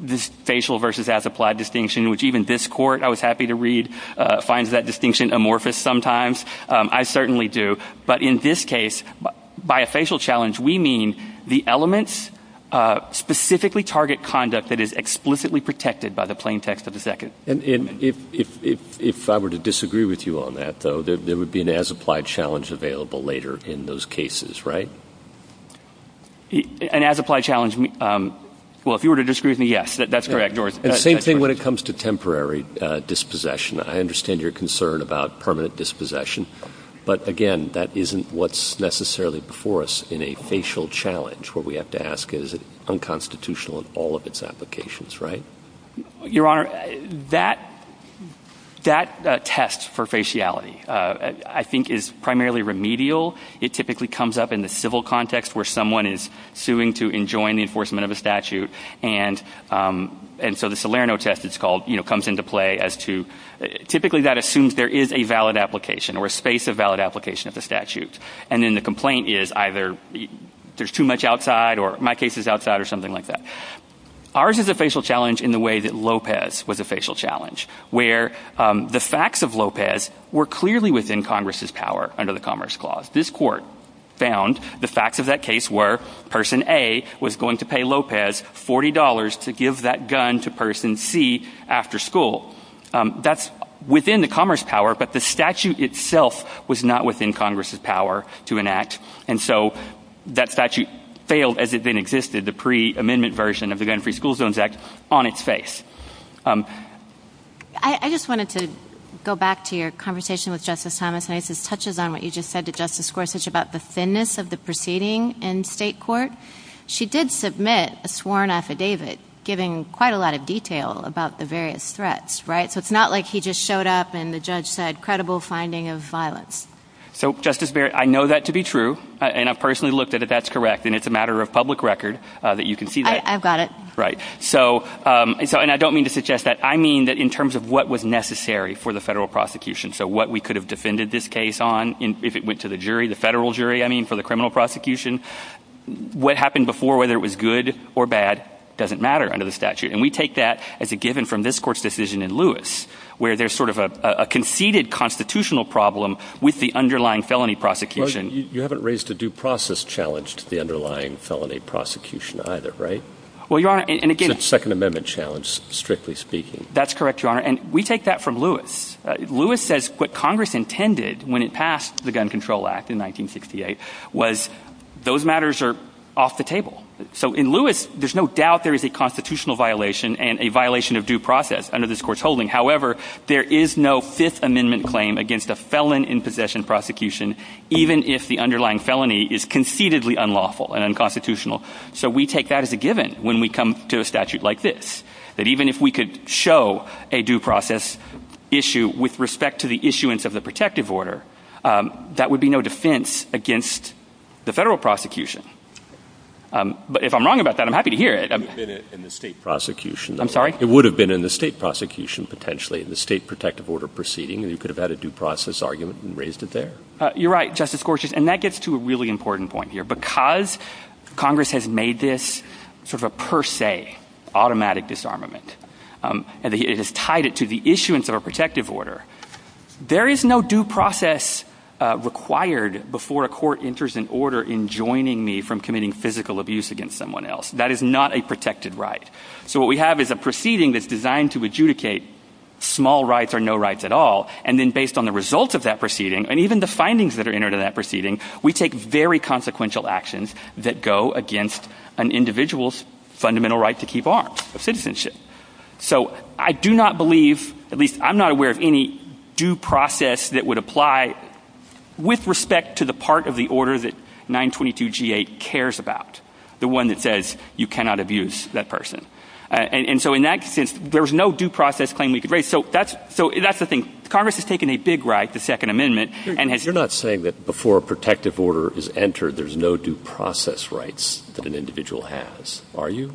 this facial versus as-applied distinction, which even this court, I was happy to read, finds that distinction amorphous sometimes. I certainly do. But in this case, by a facial challenge, we mean the elements specifically target conduct that is explicitly protected by the plain text of the second amendment. And if I were to disagree with you on that, though, there would be an as-applied challenge available later in those cases, right? An as-applied challenge—well, if you were to disagree with me, yes, that's correct. And the same thing when it comes to temporary dispossession. I understand your concern about permanent dispossession. But again, that isn't what's necessarily before us in a facial challenge. What we have to ask is, is it unconstitutional in all of its applications, right? Your Honor, that test for faciality, I think, is primarily remedial. It typically comes up in the civil context where someone is suing to enjoin the enforcement of a statute. And so the Salerno test comes into play as to— typically that assumes there is a valid application or a space of valid application of the statutes. And then the complaint is either there's too much outside or my case is outside or something like that. Ours is a facial challenge in the way that Lopez was a facial challenge, where the facts of Lopez were clearly within Congress's power under the Commerce Clause. This court found the facts of that case were, Person A was going to pay Lopez $40 to give that gun to Person C after school. That's within the Commerce Power, but the statute itself was not within Congress's power to enact. And so that statute failed as it then existed, the pre-amendment version of the Gun-Free School Zones Act, on its face. I just wanted to go back to your conversation with Justice Thomas. And I guess this touches on what you just said to Justice Gorsuch about the thinness of the proceeding in state court. She did submit a sworn affidavit giving quite a lot of detail about the various threats, right? So it's not like he just showed up and the judge said, credible finding of violence. So, Justice Barrett, I know that to be true, and I've personally looked at it, that's correct, and it's a matter of public record that you can see that. I've got it. Right. And I don't mean to suggest that. I mean that in terms of what was necessary for the federal prosecution, so what we could have defended this case on if it went to the jury, the federal jury, I mean, for the criminal prosecution. What happened before, whether it was good or bad, doesn't matter under the statute. And we take that as a given from this court's decision in Lewis, where there's sort of a conceded constitutional problem with the underlying felony prosecution. You haven't raised a due process challenge to the underlying felony prosecution either, right? The Second Amendment challenge, strictly speaking. That's correct, Your Honor, and we take that from Lewis. Lewis says what Congress intended when it passed the Gun Control Act in 1968 was those matters are off the table. So in Lewis, there's no doubt there is a constitutional violation However, there is no Fifth Amendment claim against the felon in possession prosecution, even if the underlying felony is concededly unlawful and unconstitutional. So we take that as a given when we come to a statute like this, that even if we could show a due process issue with respect to the issuance of the protective order, that would be no defense against the federal prosecution. But if I'm wrong about that, I'm happy to hear it. I'm sorry? You're right, Justice Gorsuch, and that gets to a really important point here. Because Congress has made this sort of a per se, automatic disarmament, and it has tied it to the issuance of a protective order, there is no due process required before a court enters an order in joining me from committing physical abuse against someone else. That is not a protected right. So what we have is a proceeding that's designed to adjudicate small rights or no rights at all, and then based on the results of that proceeding, and even the findings that are entered in that proceeding, we take very consequential actions that go against an individual's fundamental right to keep arms, citizenship. So I do not believe, at least I'm not aware of any due process that would apply with respect to the part of the order that 922 G-8 cares about, the one that says you cannot abuse that person. And so in that sense, there's no due process claim we could raise. So that's the thing. Congress has taken a big right to the Second Amendment. You're not saying that before a protective order is entered, there's no due process rights that an individual has, are you?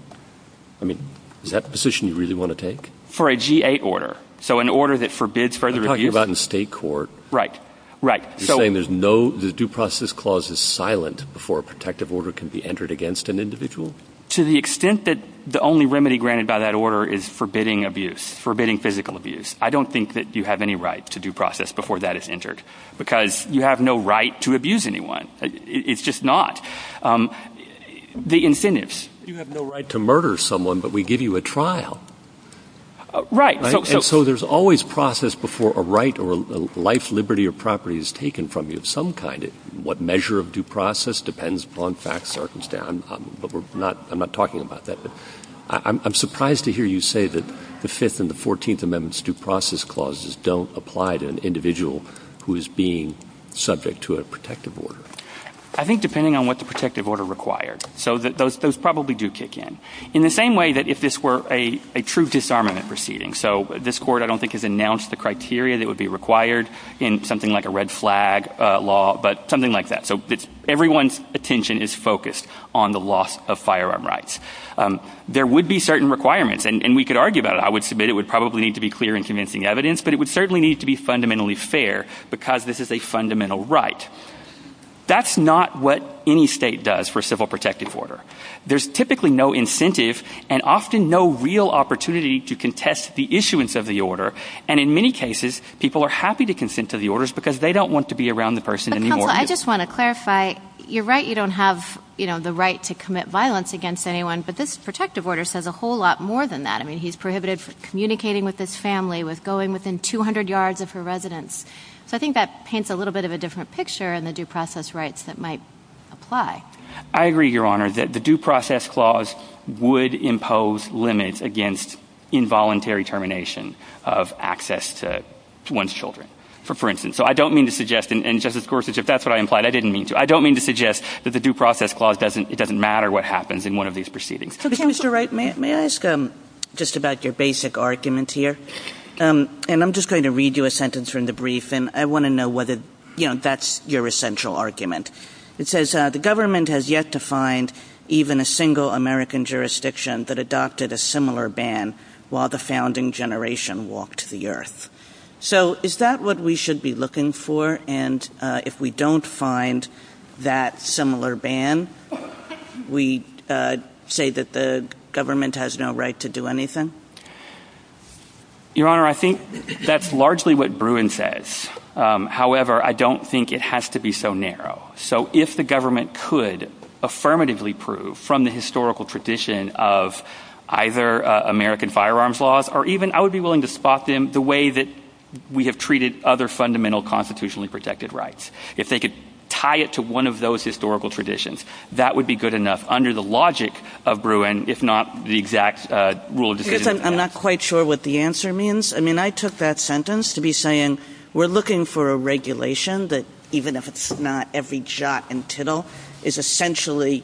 I mean, is that the position you really want to take? For a G-8 order, so an order that forbids further abuse. I'm talking about in state court. Right, right. You're saying there's no, the due process clause is silent before a protective order can be entered against an individual? To the extent that the only remedy granted by that order is forbidding abuse, forbidding physical abuse. I don't think that you have any right to due process before that is entered, because you have no right to abuse anyone. It's just not. The infinites. You have no right to murder someone, but we give you a trial. Right. And so there's always process before a right or a life, liberty, or property is taken from you of some kind. What measure of due process depends upon facts, Arkansas, but we're not, I'm not talking about that. I'm surprised to hear you say that the Fifth and the Fourteenth Amendment's due process clauses don't apply to an individual who is being subject to a protective order. I think depending on what the protective order required. So those probably do kick in. In the same way that if this were a true disarmament proceeding. So this court, I don't think, has announced the criteria that would be required in something like a red flag law, but something like that. So everyone's attention is focused on the loss of firearm rights. There would be certain requirements and we could argue about it. I would submit it would probably need to be clear and convincing evidence, but it would certainly need to be fundamentally fair because this is a fundamental right. That's not what any state does for civil protective order. There's typically no incentive and often no real opportunity to contest the issuance of the order. And in many cases, people are happy to consent to the orders because they don't want to be around the person anymore. I just want to clarify. You're right. You don't have the right to commit violence against anyone. But this protective order says a whole lot more than that. I mean, he's prohibited from communicating with this family with going within 200 yards of her residence. So I think that paints a little bit of a different picture and the due process rights that might apply. I agree, Your Honor, that the due process clause would impose limits against involuntary termination of access to one's children, for instance. So I don't mean to suggest, and Justice Gorsuch, if that's what I implied, I didn't mean to. I don't mean to suggest that the due process clause doesn't matter what happens in one of these proceedings. Mr. Wright, may I ask just about your basic argument here? And I'm just going to read you a sentence from the brief, and I want to know whether that's your essential argument. It says, the government has yet to find even a single American jurisdiction that adopted a similar ban while the founding generation walked the earth. So is that what we should be looking for? And if we don't find that similar ban, we say that the government has no right to do anything? Your Honor, I think that's largely what Bruin says. However, I don't think it has to be so narrow. So if the government could affirmatively prove from the historical tradition of either American firearms laws, or even I would be willing to spot them the way that we have treated other fundamental constitutionally protected rights. If they could tie it to one of those historical traditions, that would be good enough under the logic of Bruin, if not the exact rule of decision. I'm not quite sure what the answer means. I mean, I took that sentence to be saying we're looking for a regulation that, even if it's not every jot and tittle, is essentially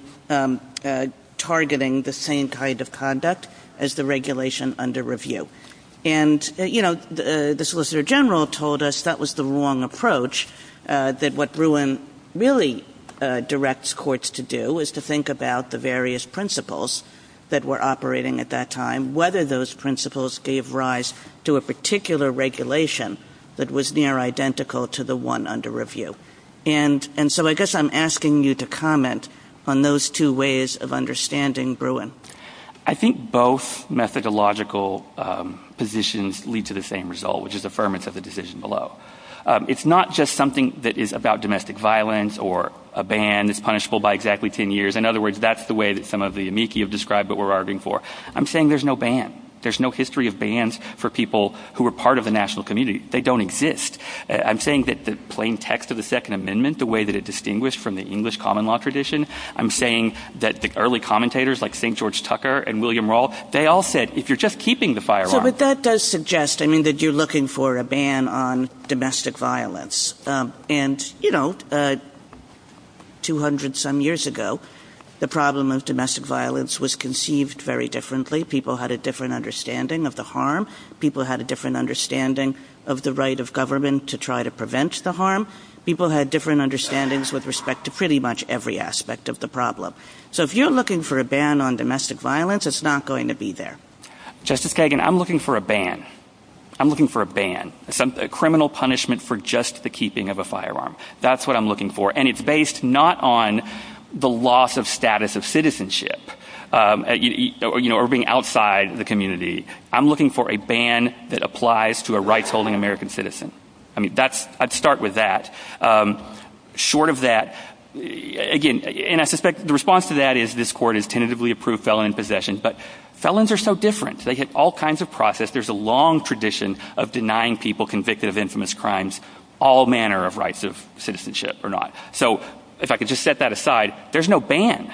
targeting the same kind of conduct as the regulation under review. And, you know, the Solicitor General told us that was the wrong approach, that what Bruin really directs courts to do is to think about the various principles that were operating at that time, and whether those principles gave rise to a particular regulation that was near identical to the one under review. And so I guess I'm asking you to comment on those two ways of understanding Bruin. I think both methodological positions lead to the same result, which is affirmance of the decision below. It's not just something that is about domestic violence, or a ban is punishable by exactly ten years. In other words, that's the way that some of the amici have described what we're arguing for. I'm saying there's no ban. There's no history of bans for people who are part of the national community. They don't exist. I'm saying that the plain text of the Second Amendment, the way that it distinguished from the English common law tradition, I'm saying that the early commentators like St. George Tucker and William Rawls, they all said if you're just keeping the fire alive. But that does suggest, I mean, that you're looking for a ban on domestic violence. And, you know, 200 some years ago, the problem of domestic violence was conceived very differently. People had a different understanding of the harm. People had a different understanding of the right of government to try to prevent the harm. People had different understandings with respect to pretty much every aspect of the problem. So if you're looking for a ban on domestic violence, it's not going to be there. Justice Kagan, I'm looking for a ban. I'm looking for a ban. A criminal punishment for just the keeping of a firearm. That's what I'm looking for. And it's based not on the loss of status of citizenship or being outside the community. I'm looking for a ban that applies to a rights-holding American citizen. I mean, I'd start with that. Short of that, again, and I suspect the response to that is this court has tentatively approved felon in possession. But felons are so different. They hit all kinds of process. There's a long tradition of denying people convicted of infamous crimes all manner of rights of citizenship or not. So if I could just set that aside, there's no ban.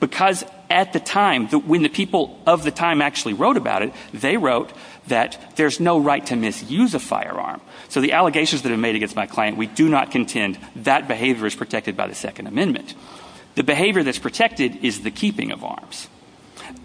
Because at the time, when the people of the time actually wrote about it, they wrote that there's no right to misuse a firearm. So the allegations that are made against my client, we do not contend that behavior is protected by the Second Amendment. The behavior that's protected is the keeping of arms.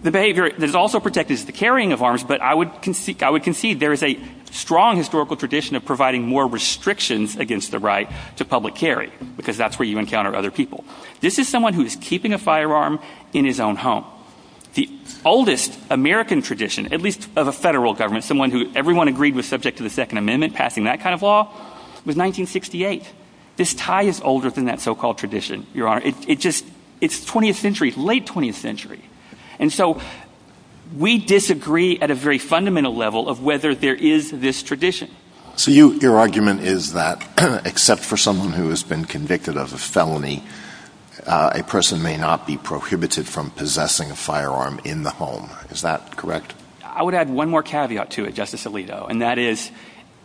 The behavior that is also protected is the carrying of arms. But I would concede there is a strong historical tradition of providing more restrictions against the right to public carry. Because that's where you encounter other people. This is someone who is keeping a firearm in his own home. The oldest American tradition, at least of a federal government, someone who everyone agreed was subject to the Second Amendment, passing that kind of law, was 1968. This tie is older than that so-called tradition, Your Honor. It's 20th century, late 20th century. And so we disagree at a very fundamental level of whether there is this tradition. So your argument is that, except for someone who has been convicted of a felony, a person may not be prohibited from possessing a firearm in the home. Is that correct? I would add one more caveat to it, Justice Alito. And that is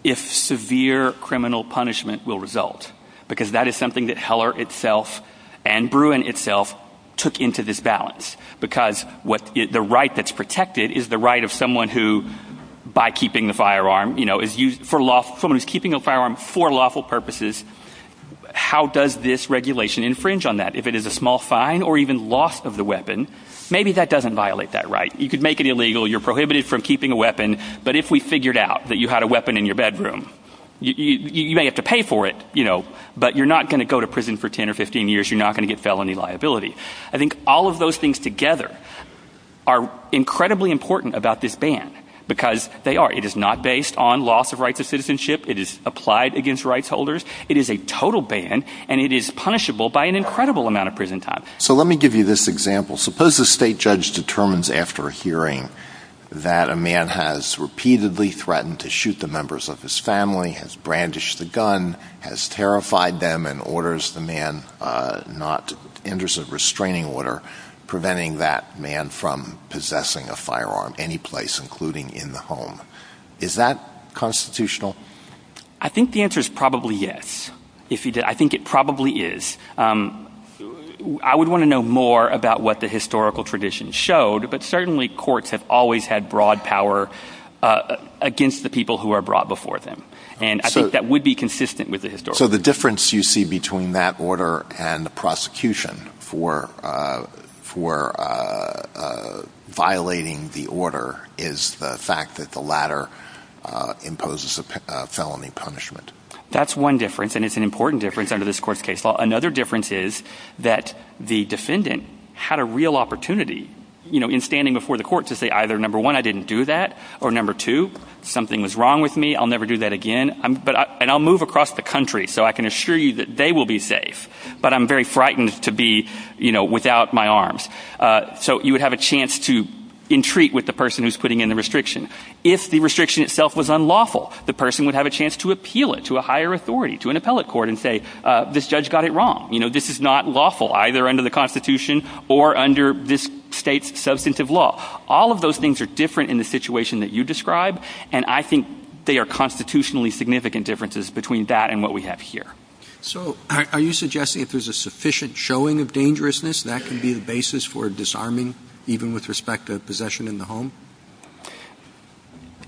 if severe criminal punishment will result. Because that is something that Heller itself and Bruin itself took into this balance. Because the right that's protected is the right of someone who, by keeping the firearm, for lawful purposes, how does this regulation infringe on that? If it is a small fine or even loss of the weapon, maybe that doesn't violate that right. You could make it illegal. You're prohibited from keeping a weapon. But if we figured out that you had a weapon in your bedroom, you may have to pay for it. But you're not going to go to prison for 10 or 15 years. You're not going to get felony liability. I think all of those things together are incredibly important about this ban. Because they are. It is not based on loss of rights of citizenship. It is applied against rights holders. It is a total ban. And it is punishable by an incredible amount of prison time. So let me give you this example. Suppose a state judge determines after a hearing that a man has repeatedly threatened to shoot the members of his family, has brandished the gun, has terrified them, and orders the man not to enter a restraining order, preventing that man from possessing a firearm any place, including in the home. Is that constitutional? I think the answer is probably yes. I think it probably is. I would want to know more about what the historical tradition showed. But certainly courts have always had broad power against the people who are brought before them. And I think that would be consistent with the historical tradition. So the difference you see between that order and the prosecution for violating the order is the fact that the latter imposes a felony punishment. That's one difference. And it's an important difference under this court's case law. Another difference is that the defendant had a real opportunity in standing before the court to say either, number one, I didn't do that, or number two, something was wrong with me. I'll never do that again. And I'll move across the country so I can assure you that they will be safe. But I'm very frightened to be without my arms. So you would have a chance to entreat with the person who's putting in the restriction. If the restriction itself was unlawful, the person would have a chance to appeal it to a higher authority, to an appellate court, and say this judge got it wrong. You know, this is not lawful either under the Constitution or under this state's substantive law. All of those things are different in the situation that you described. And I think they are constitutionally significant differences between that and what we have here. So are you suggesting if there's a sufficient showing of dangerousness, that can be the basis for disarming, even with respect to possession in the home?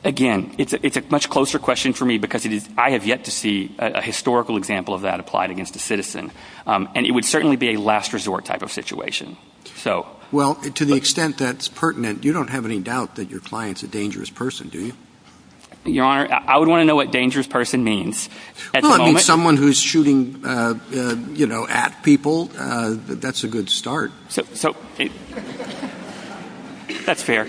Again, it's a much closer question for me because I have yet to see a historical example of that applied against a citizen. And it would certainly be a last resort type of situation. Well, to the extent that's pertinent, you don't have any doubt that your client's a dangerous person, do you? Your Honor, I would want to know what dangerous person means at the moment. Someone who's shooting, you know, at people, that's a good start. So, if that's fair,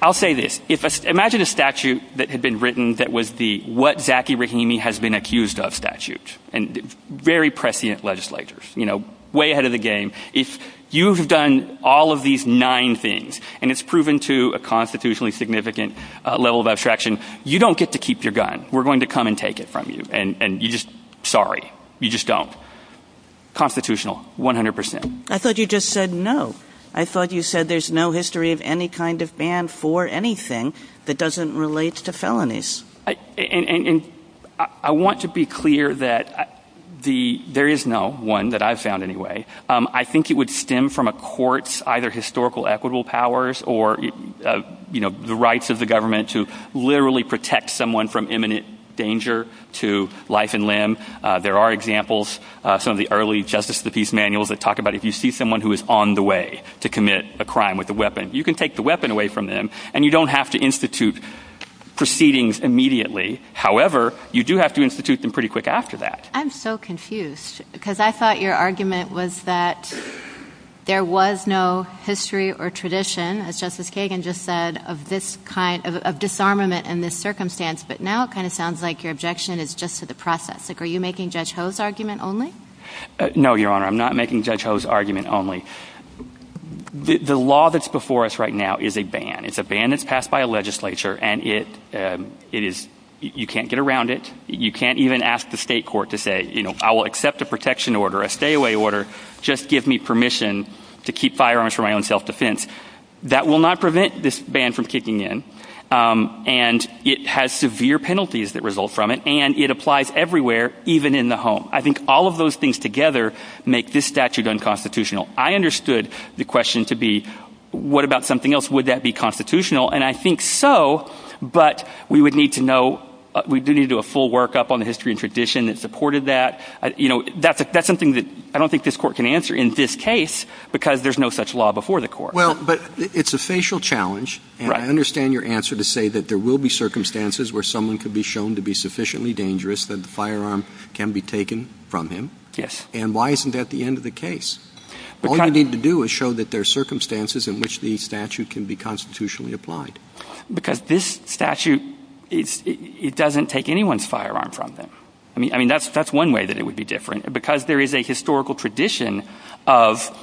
I'll say this. Imagine a statute that had been written that was the what-Zachary Rahimi-has-been-accused-of statute. And very prescient legislators, you know, way ahead of the game. If you've done all of these nine things, and it's proven to a constitutionally significant level of abstraction, you don't get to keep your gun. We're going to come and take it from you. And you just, sorry, you just don't. Constitutional, 100%. I thought you just said no. I thought you said there's no history of any kind of ban for anything that doesn't relate to felonies. And I want to be clear that there is no one that I've found anyway. I think it would stem from a court's either historical equitable powers or, you know, the rights of the government to literally protect someone from imminent danger to life and limb. There are examples, some of the early Justice of the Peace manuals that talk about if you see someone who is on the way to commit a crime with a weapon, you can take the weapon away from them. And you don't have to institute proceedings immediately. However, you do have to institute them pretty quick after that. I'm so confused because I thought your argument was that there was no history or tradition, as Justice Kagan just said, of this kind of disarmament in this circumstance. But now it kind of sounds like your objection is just to the process. Are you making Judge Ho's argument only? No, Your Honor. I'm not making Judge Ho's argument only. The law that's before us right now is a ban. It's a ban that's passed by a legislature, and it is, you can't get around it. You can't even ask the state court to say, you know, I will accept a protection order, a stay-away order, just give me permission to keep firearms for my own self-defense. That will not prevent this ban from kicking in, and it has severe penalties that result from it, and it applies everywhere, even in the home. I think all of those things together make this statute unconstitutional. I understood the question to be, what about something else? Would that be constitutional? And I think so. But we would need to know, we do need to do a full workup on the history and tradition that supported that. You know, that's something that I don't think this court can answer in this case because there's no such law before the court. Well, but it's a facial challenge, and I understand your answer to say that there will be circumstances where someone could be shown to be sufficiently dangerous that the firearm can be taken from him. Yes. And why isn't that the end of the case? All you need to do is show that there are circumstances in which the statute can be constitutionally applied. Because this statute, it doesn't take anyone's firearm from them. I mean, that's one way that it would be different, because there is a historical tradition of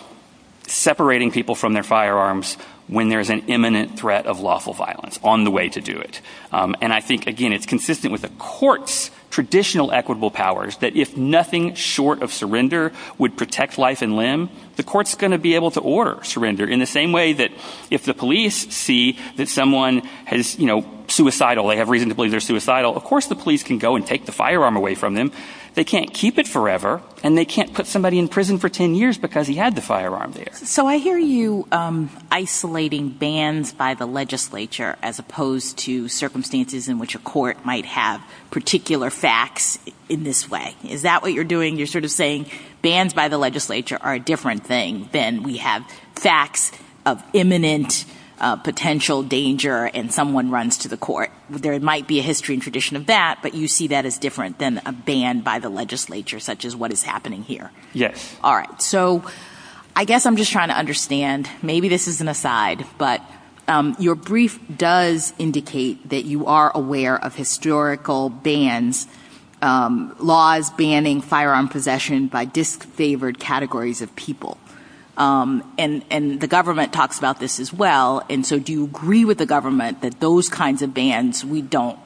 separating people from their firearms when there's an imminent threat of lawful violence on the way to do it. And I think, again, it's consistent with the court's traditional equitable powers that if nothing short of surrender would protect life and limb, the court's going to be able to order surrender in the same way that if the police see that someone has, you know, suicidal, they have reason to believe they're suicidal, of course the police can go and take the firearm away from them. They can't keep it forever, and they can't put somebody in prison for 10 years because he had the firearm there. So I hear you isolating bans by the legislature as opposed to circumstances in which a court might have particular facts in this way. Is that what you're doing? You're sort of saying bans by the legislature are a different thing than we have facts of imminent potential danger and someone runs to the court. There might be a history and tradition of that, but you see that as different than a ban by the legislature, such as what is happening here. Yes. All right. So I guess I'm just trying to understand, maybe this is an aside, but your brief does indicate that you are aware of historical bans, laws banning firearm possession by disfavored categories of people. And the government talks about this as well. And so do you agree with the government that those kinds of bans we don't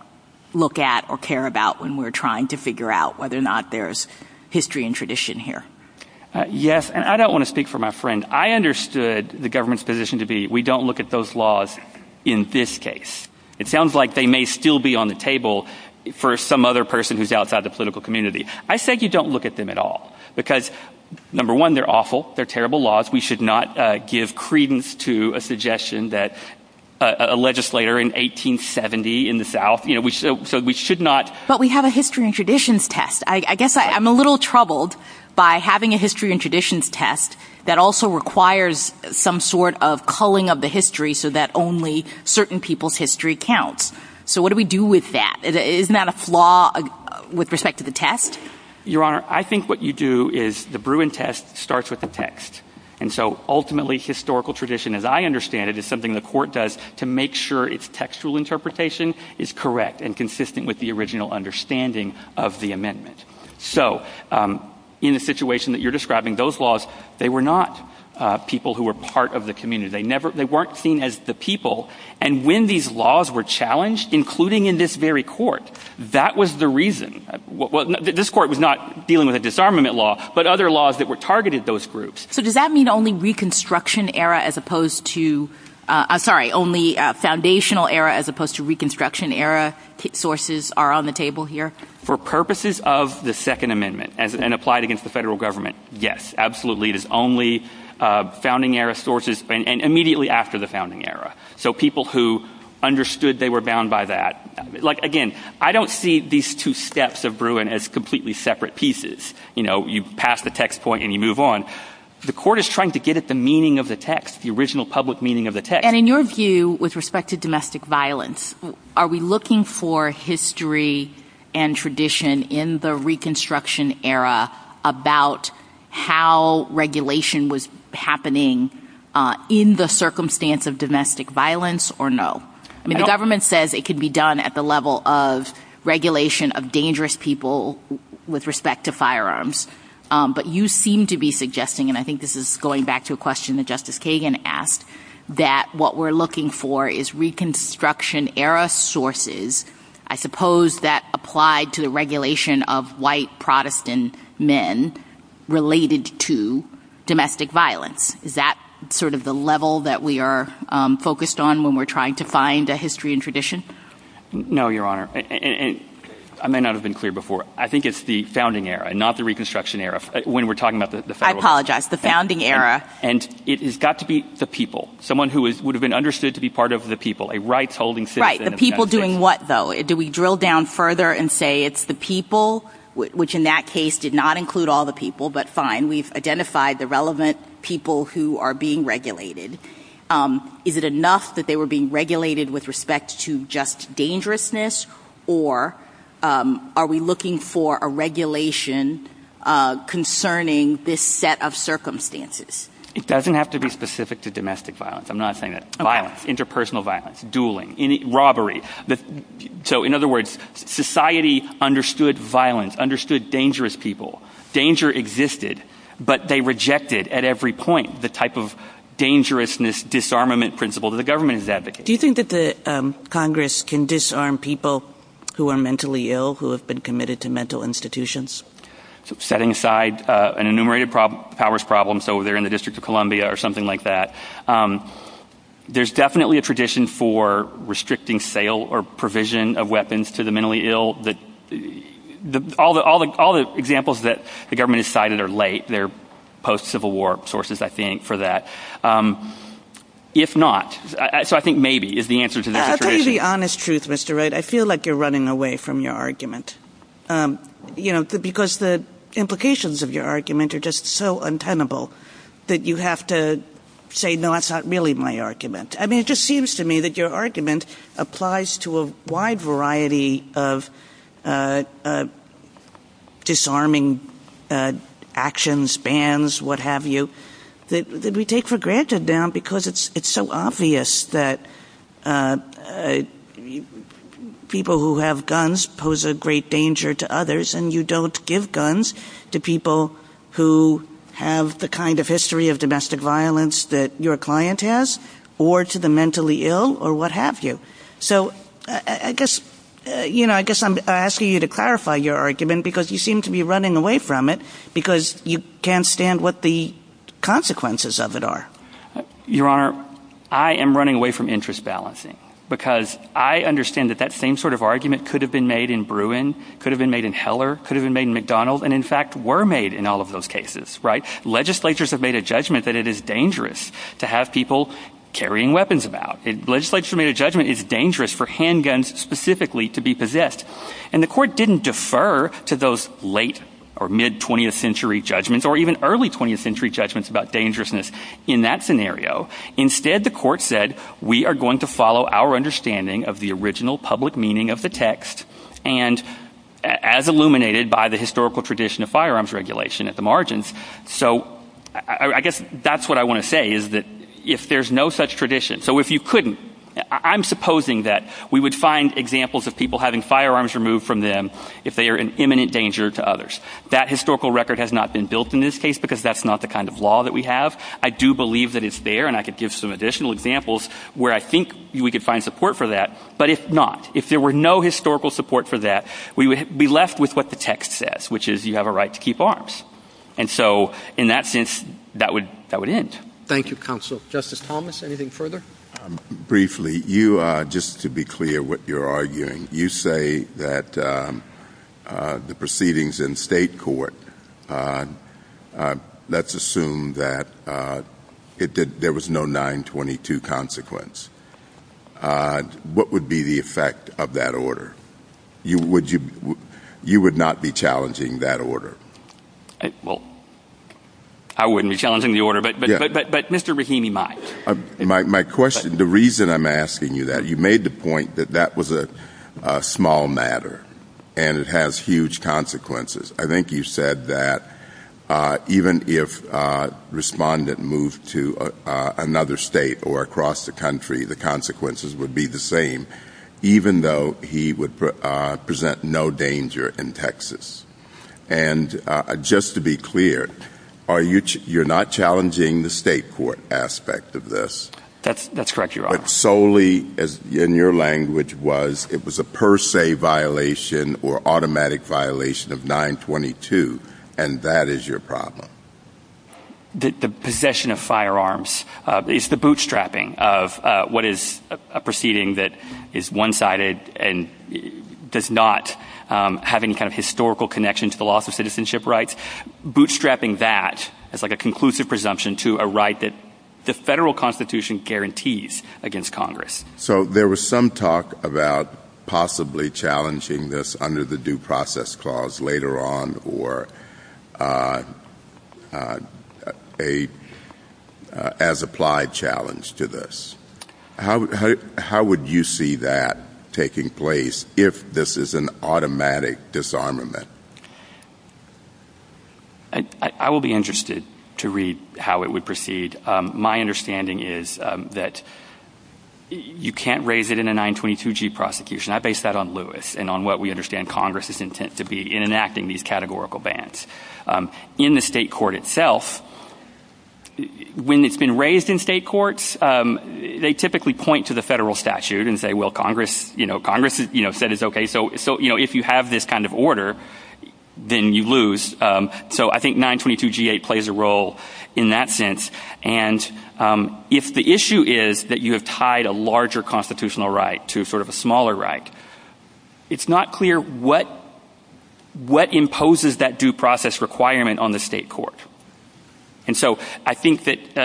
look at or care about when we're trying to figure out whether or not there's history and tradition here? Yes. And I don't want to speak for my friend. I understood the government's position to be we don't look at those laws in this case. It sounds like they may still be on the table for some other person who's outside the political community. I said you don't look at them at all because, number one, they're awful. They're terrible laws. We should not give credence to a suggestion that a legislator in 1870 in the South, you know, so we should not. But we have a history and traditions test. I guess I'm a little troubled by having a history and traditions test that also requires some sort of culling of the history so that only certain people's history counts. So what do we do with that? Isn't that a flaw with respect to the test? Your Honor, I think what you do is the Bruin test starts with the text. And so ultimately historical tradition, as I understand it, is something the court does to make sure its textual interpretation is correct and consistent with the original understanding of the amendment. So in the situation that you're describing, those laws, they were not people who were part of the community. They weren't seen as the people. And when these laws were challenged, including in this very court, that was the reason. This court was not dealing with a disarmament law, but other laws that were targeted those groups. So does that mean only reconstruction era as opposed to, I'm sorry, only foundational era as opposed to reconstruction era sources are on the table here? For purposes of the Second Amendment and applied against the federal government, yes, absolutely. It is only founding era sources and immediately after the founding era. So people who understood they were bound by that. Like, again, I don't see these two steps of Bruin as completely separate pieces. You know, you pass the text point and you move on. The court is trying to get at the meaning of the text, the original public meaning of the text. And in your view, with respect to domestic violence, are we looking for history and tradition in the reconstruction era about how regulation was happening in the circumstance of domestic violence or no? I mean, the government says it can be done at the level of regulation of dangerous people with respect to firearms. But you seem to be suggesting, and I think this is going back to a question that Justice Kagan asked, that what we're looking for is reconstruction era sources. I suppose that applied to the regulation of white Protestant men related to domestic violence. Is that sort of the level that we are focused on when we're trying to find a history and tradition? No, Your Honor. I may not have been clear before. I think it's the founding era, not the reconstruction era. When we're talking about the founding era. I apologize. The founding era. And it has got to be the people. Someone who would have been understood to be part of the people. A right-holding citizen. Right. The people doing what, though? Do we drill down further and say it's the people, which in that case did not include all the people, but fine. We've identified the relevant people who are being regulated. Is it enough that they were being regulated with respect to just dangerousness, or are we looking for a regulation concerning this set of circumstances? It doesn't have to be specific to domestic violence. I'm not saying that. Violence. Interpersonal violence. Dueling. Robbery. So, in other words, society understood violence, understood dangerous people. Danger existed, but they rejected at every point the type of dangerousness disarmament principle that the government is advocating. Do you think that Congress can disarm people who are mentally ill, who have been committed to mental institutions? Setting aside an enumerated powers problem, so they're in the District of Columbia or something like that. There's definitely a tradition for restricting sale or provision of weapons to the mentally ill. All the examples that the government has cited are late. They're post-Civil War sources, I think, for that. If not, so I think maybe is the answer to that tradition. I'll tell you the honest truth, Mr. Wright. I feel like you're running away from your argument. Because the implications of your argument are just so untenable that you have to say, no, that's not really my argument. I mean, it just seems to me that your argument applies to a wide variety of disarming actions, bans, what have you, that we take for granted now because it's so obvious that people who have guns pose a great danger to others and you don't give guns to people who have the kind of history of domestic violence that your client has or to the mentally ill or what have you. So I guess I'm asking you to clarify your argument because you seem to be running away from it because you can't stand what the consequences of it are. Your Honor, I am running away from interest balancing because I understand that that same sort of argument could have been made in Bruin, could have been made in Heller, could have been made in McDonald, and in fact were made in all of those cases. Legislators have made a judgment that it is dangerous to have people carrying weapons about. Legislators have made a judgment it's dangerous for handguns specifically to be possessed. And the court didn't defer to those late or mid-20th century judgments or even early 20th century judgments about dangerousness in that scenario. Instead, the court said we are going to follow our understanding of the original public meaning of the text and as illuminated by the historical tradition of firearms regulation at the margins. So I guess that's what I want to say is that if there's no such tradition, so if you couldn't, I'm supposing that we would find examples of people having firearms removed from them if they are an imminent danger to others. That historical record has not been built in this case because that's not the kind of law that we have. I do believe that it's there and I could give some additional examples where I think we could find support for that. But if not, if there were no historical support for that, we would be left with what the text says, which is you have a right to keep arms. And so in that sense, that would end. Thank you, Counsel. Justice Thomas, anything further? Briefly, just to be clear what you're arguing, you say that the proceedings in state court, let's assume that there was no 922 consequence. What would be the effect of that order? You would not be challenging that order? Well, I wouldn't be challenging the order, but Mr. Rahimi might. My question, the reason I'm asking you that, you made the point that that was a small matter and it has huge consequences. I think you said that even if a respondent moved to another state or across the country, the consequences would be the same, even though he would present no danger in Texas. And just to be clear, you're not challenging the state court aspect of this? That's correct, Your Honor. But solely, in your language, it was a per se violation or automatic violation of 922, and that is your problem? The possession of firearms is the bootstrapping of what is a proceeding that is one-sided and does not have any kind of historical connection to the loss of citizenship rights. Bootstrapping that is like a conclusive presumption to a right that the federal constitution guarantees against Congress. So there was some talk about possibly challenging this under the due process clause later on or as applied challenge to this. How would you see that taking place if this is an automatic disarmament? I will be interested to read how it would proceed. My understanding is that you can't raise it in a 922G prosecution. I base that on Lewis and on what we understand Congress's intent to be in enacting these categorical bans. If you have this kind of order, then you lose. So I think 922G8 plays a role in that sense. And if the issue is that you have tied a larger constitutional right to sort of a smaller right, it's not clear what imposes that due process clause. And so I think that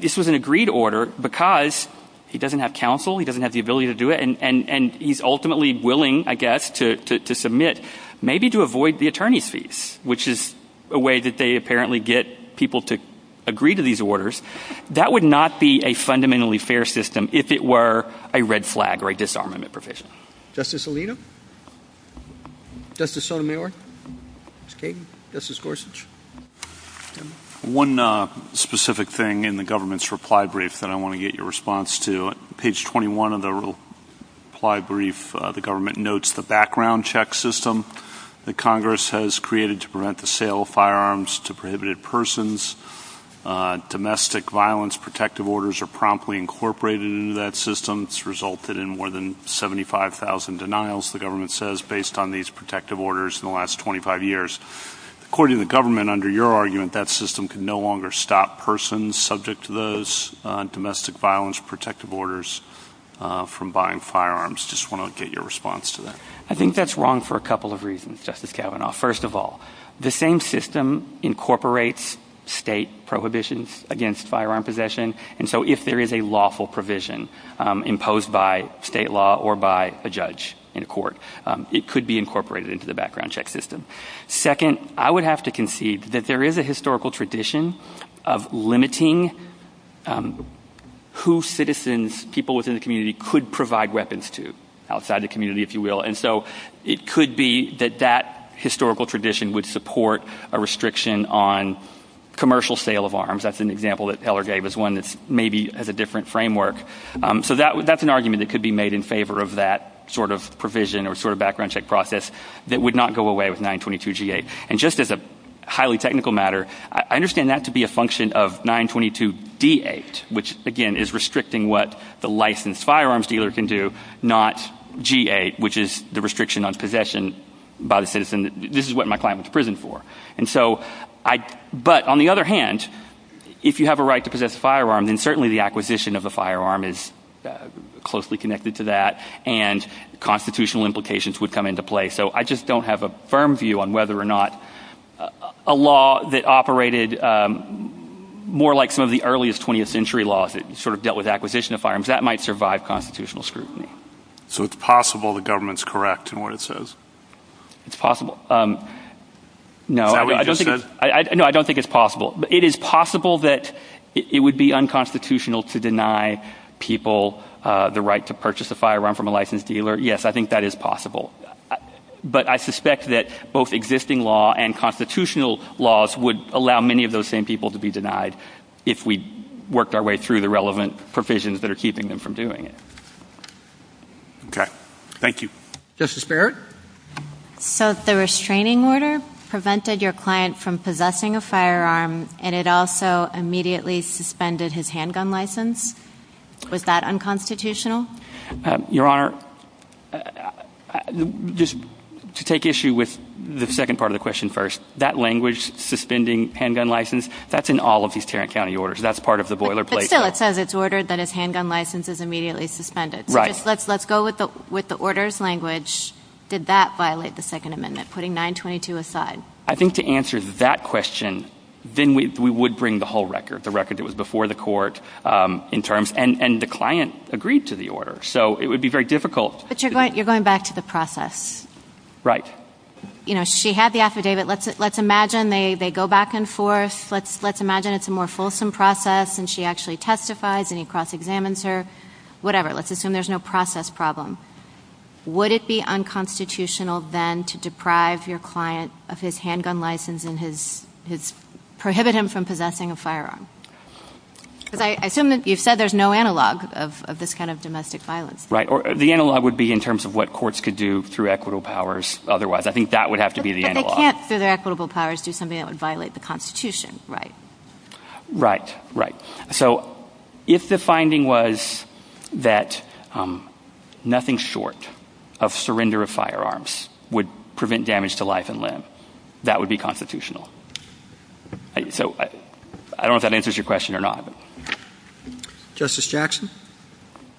this was an agreed order because he doesn't have counsel, he doesn't have the ability to do it, and he is ultimately willing, I guess, to submit maybe to avoid the attorney's fees, which is a way that they apparently get people to agree to these orders. That would not be a fundamentally fair system if it were a red flag or a disarmament provision. Justice Alito? Justice Sotomayor? Justice Kagan? Justice Gorsuch? One specific thing in the government's reply brief that I want to get your response to. Page 21 of the reply brief, the government notes the background check system that Congress has created to prevent the sale of firearms to prohibited persons. Domestic violence protective orders are promptly incorporated into that system. It's resulted in more than 75,000 denials, the government says, based on these protective orders in the last 25 years. According to the government, under your argument, that system can no longer stop persons subject to those domestic violence protective orders from buying firearms. I just want to get your response to that. I think that's wrong for a couple of reasons, Justice Kavanaugh. First of all, the same system incorporates state prohibitions against firearm possession, and so if there is a lawful provision imposed by state law or by a judge in court, it could be incorporated into the background check system. Second, I would have to concede that there is a historical tradition of limiting who citizens, people within the community, could provide weapons to outside the community, if you will, and so it could be that that historical tradition would support a restriction on commercial sale of arms. That's an example that Eller gave as one that maybe has a different framework. So that's an argument that could be made in favor of that sort of provision or sort of background check process that would not go away with 922G8. And just as a highly technical matter, I understand that to be a function of 922D8, which, again, is restricting what the licensed firearms dealer can do, not G8, which is the restriction on possession by the citizen. This is what my client was prisoned for. But on the other hand, if you have a right to possess a firearm, then certainly the acquisition of a firearm is closely connected to that, and constitutional implications would come into play. So I just don't have a firm view on whether or not a law that operated more like some of the earliest 20th century laws that sort of dealt with acquisition of firearms, that might survive constitutional scrutiny. So it's possible the government's correct in what it says? It's possible. No, I don't think it's possible. It is possible that it would be unconstitutional to deny people the right to purchase a firearm from a licensed dealer. Yes, I think that is possible. But I suspect that both existing law and constitutional laws would allow many of those same people to be denied if we worked our way through the relevant provisions that are keeping them from doing it. Okay. Thank you. Justice Barrett? So if the restraining order prevented your client from possessing a firearm and it also immediately suspended his handgun license, was that unconstitutional? Your Honor, just to take issue with the second part of the question first, that language, suspending handgun license, that's in all of these Tarrant County orders. That's part of the boilerplate. But still it says it's ordered that his handgun license is immediately suspended. Right. So let's go with the orders language. Did that violate the Second Amendment, putting 922 aside? I think to answer that question, then we would bring the whole record, the record that was before the court in terms, and the client agreed to the order. So it would be very difficult. But you're going back to the process. Right. You know, she had the affidavit. Let's imagine they go back and forth. Let's imagine it's a more fulsome process and she actually testifies and he cross-examines her. Whatever. Let's assume there's no process problem. Would it be unconstitutional then to deprive your client of his handgun license and prohibit him from possessing a firearm? Because I assume that you said there's no analog of this kind of domestic violence. Right. The analog would be in terms of what courts could do through equitable powers. Otherwise, I think that would have to be the analog. But they can't, through their equitable powers, do something that would violate the Constitution, right? Right. Right. So if the finding was that nothing short of surrender of firearms would prevent damage to life and limb, that would be constitutional. So I don't know if that answers your question or not. Justice Jackson?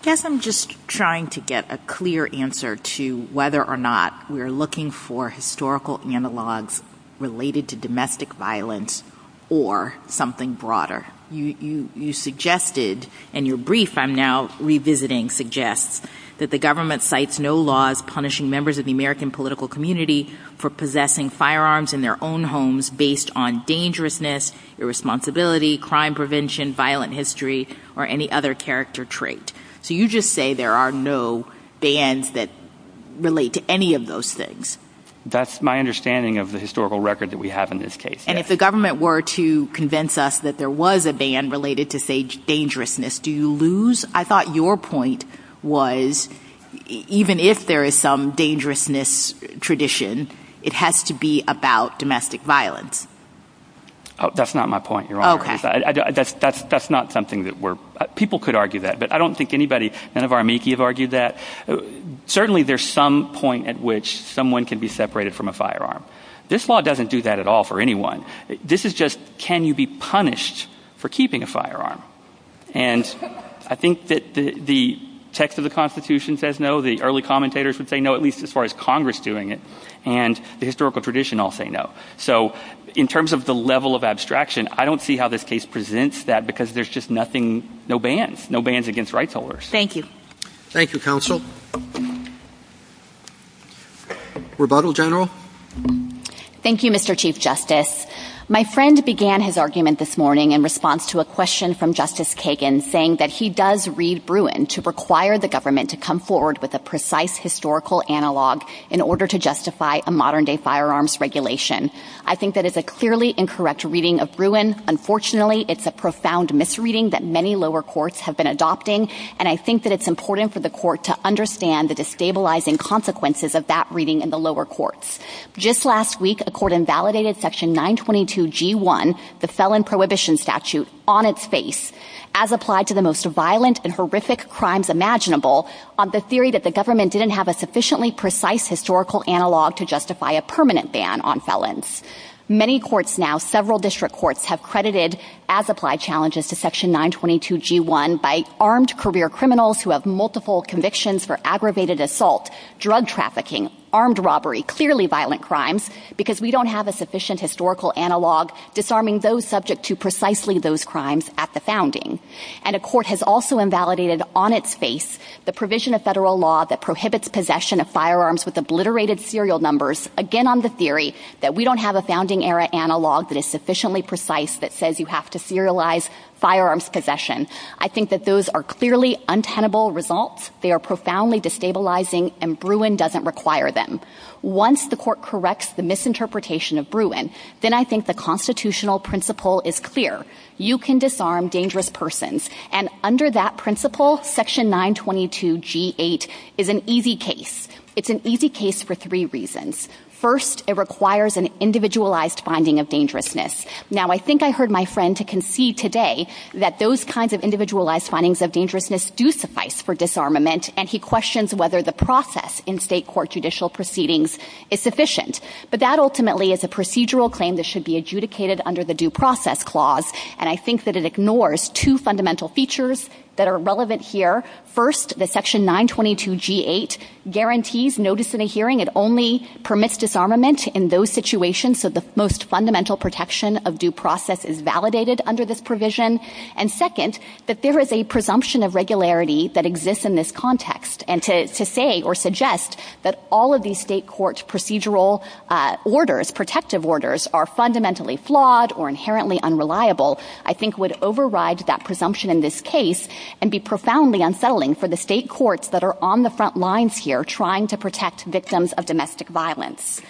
I guess I'm just trying to get a clear answer to whether or not we're looking for historical analogs related to domestic violence or something broader. You suggested in your brief I'm now revisiting suggests that the government cites no laws punishing members of the American political community for possessing firearms in their own homes based on dangerousness, irresponsibility, crime prevention, violent history, or any other character trait. So you just say there are no bans that relate to any of those things. That's my understanding of the historical record that we have in this case. And if the government were to convince us that there was a ban related to, say, dangerousness, do you lose? I thought your point was even if there is some dangerousness tradition, it has to be about domestic violence. That's not my point, Your Honor. Okay. That's not something that we're – people could argue that, but I don't think anybody, none of our amici have argued that. Certainly there's some point at which someone can be separated from a firearm. This law doesn't do that at all for anyone. This is just can you be punished for keeping a firearm. And I think that the text of the Constitution says no. The early commentators would say no, at least as far as Congress doing it. And the historical tradition all say no. So in terms of the level of abstraction, I don't see how this case presents that because there's just nothing – no bans, no bans against rights holders. Thank you. Thank you, Counsel. Thank you. Rebuttal, General? Thank you, Mr. Chief Justice. My friend began his argument this morning in response to a question from Justice Kagan saying that he does read Bruin to require the government to come forward with a precise historical analog in order to justify a modern-day firearms regulation. I think that it's a clearly incorrect reading of Bruin. Unfortunately, it's a profound misreading that many lower courts have been adopting, and I think that it's important for the court to understand the destabilizing consequences of that reading in the lower courts. Just last week, a court invalidated Section 922G1, the Felon Prohibition Statute, on its face as applied to the most violent and horrific crimes imaginable on the theory that the government didn't have a sufficiently precise historical analog to justify a permanent ban on felons. Many courts now, several district courts, have credited as-applied challenges to Section 922G1 by armed career criminals who have multiple convictions for aggravated assault, drug trafficking, armed robbery, clearly violent crimes, because we don't have a sufficient historical analog disarming those subject to precisely those crimes at the founding. And a court has also invalidated on its face the provision of federal law that prohibits possession of firearms with obliterated serial numbers, again on the theory that we don't have a founding-era analog that is sufficiently precise that says you have to serialize firearms possession. I think that those are clearly untenable results. They are profoundly destabilizing, and Bruin doesn't require them. Once the court corrects the misinterpretation of Bruin, then I think the constitutional principle is clear. You can disarm dangerous persons. And under that principle, Section 922G8 is an easy case. It's an easy case for three reasons. First, it requires an individualized finding of dangerousness. Now, I think I heard my friend concede today that those kinds of individualized findings of dangerousness do suffice for disarmament, and he questions whether the process in state court judicial proceedings is sufficient. But that ultimately is a procedural claim that should be adjudicated under the Due Process Clause, and I think that it ignores two fundamental features that are relevant here. First, the Section 922G8 guarantees notice in a hearing. It only permits disarmament in those situations, so the most fundamental protection of due process is validated under this provision. And second, that there is a presumption of regularity that exists in this context, and to say or suggest that all of these state courts' procedural orders, protective orders, are fundamentally flawed or inherently unreliable, I think would override that presumption in this case and be profoundly unsettling for the state courts that are on the front lines here trying to protect victims of domestic violence.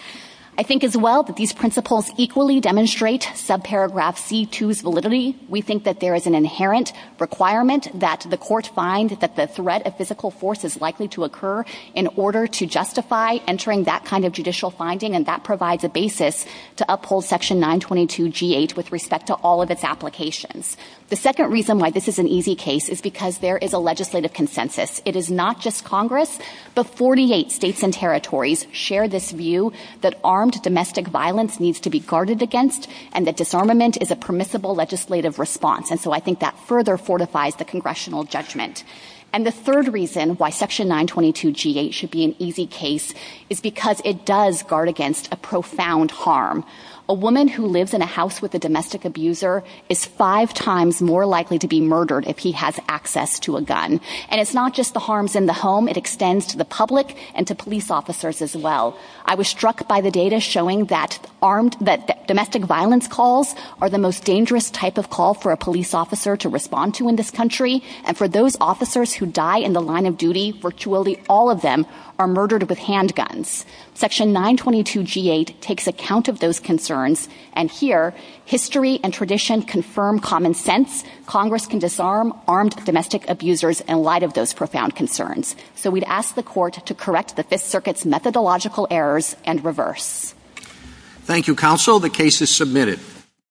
I think as well that these principles equally demonstrate subparagraph C2's validity. We think that there is an inherent requirement that the court find that the threat of physical force is likely to occur in order to justify entering that kind of judicial finding, and that provides a basis to uphold Section 922G8 with respect to all of its applications. The second reason why this is an easy case is because there is a legislative consensus. It is not just Congress, but 48 states and territories share this view that armed domestic violence needs to be guarded against and that disarmament is a permissible legislative response, and so I think that further fortifies the congressional judgment. And the third reason why Section 922G8 should be an easy case is because it does guard against a profound harm. A woman who lives in a house with a domestic abuser and it's not just the harms in the home. It extends to the public and to police officers as well. I was struck by the data showing that that domestic violence calls are the most dangerous type of call for a police officer to respond to in this country, and for those officers who die in the line of duty, virtually all of them are murdered with handguns. Section 922G8 takes account of those concerns, and here history and tradition confirm common sense. Congress can disarm armed domestic abusers in light of those profound concerns, so we'd ask the Court to correct the Fifth Circuit's methodological errors and reverse. Thank you, Counsel. The case is submitted.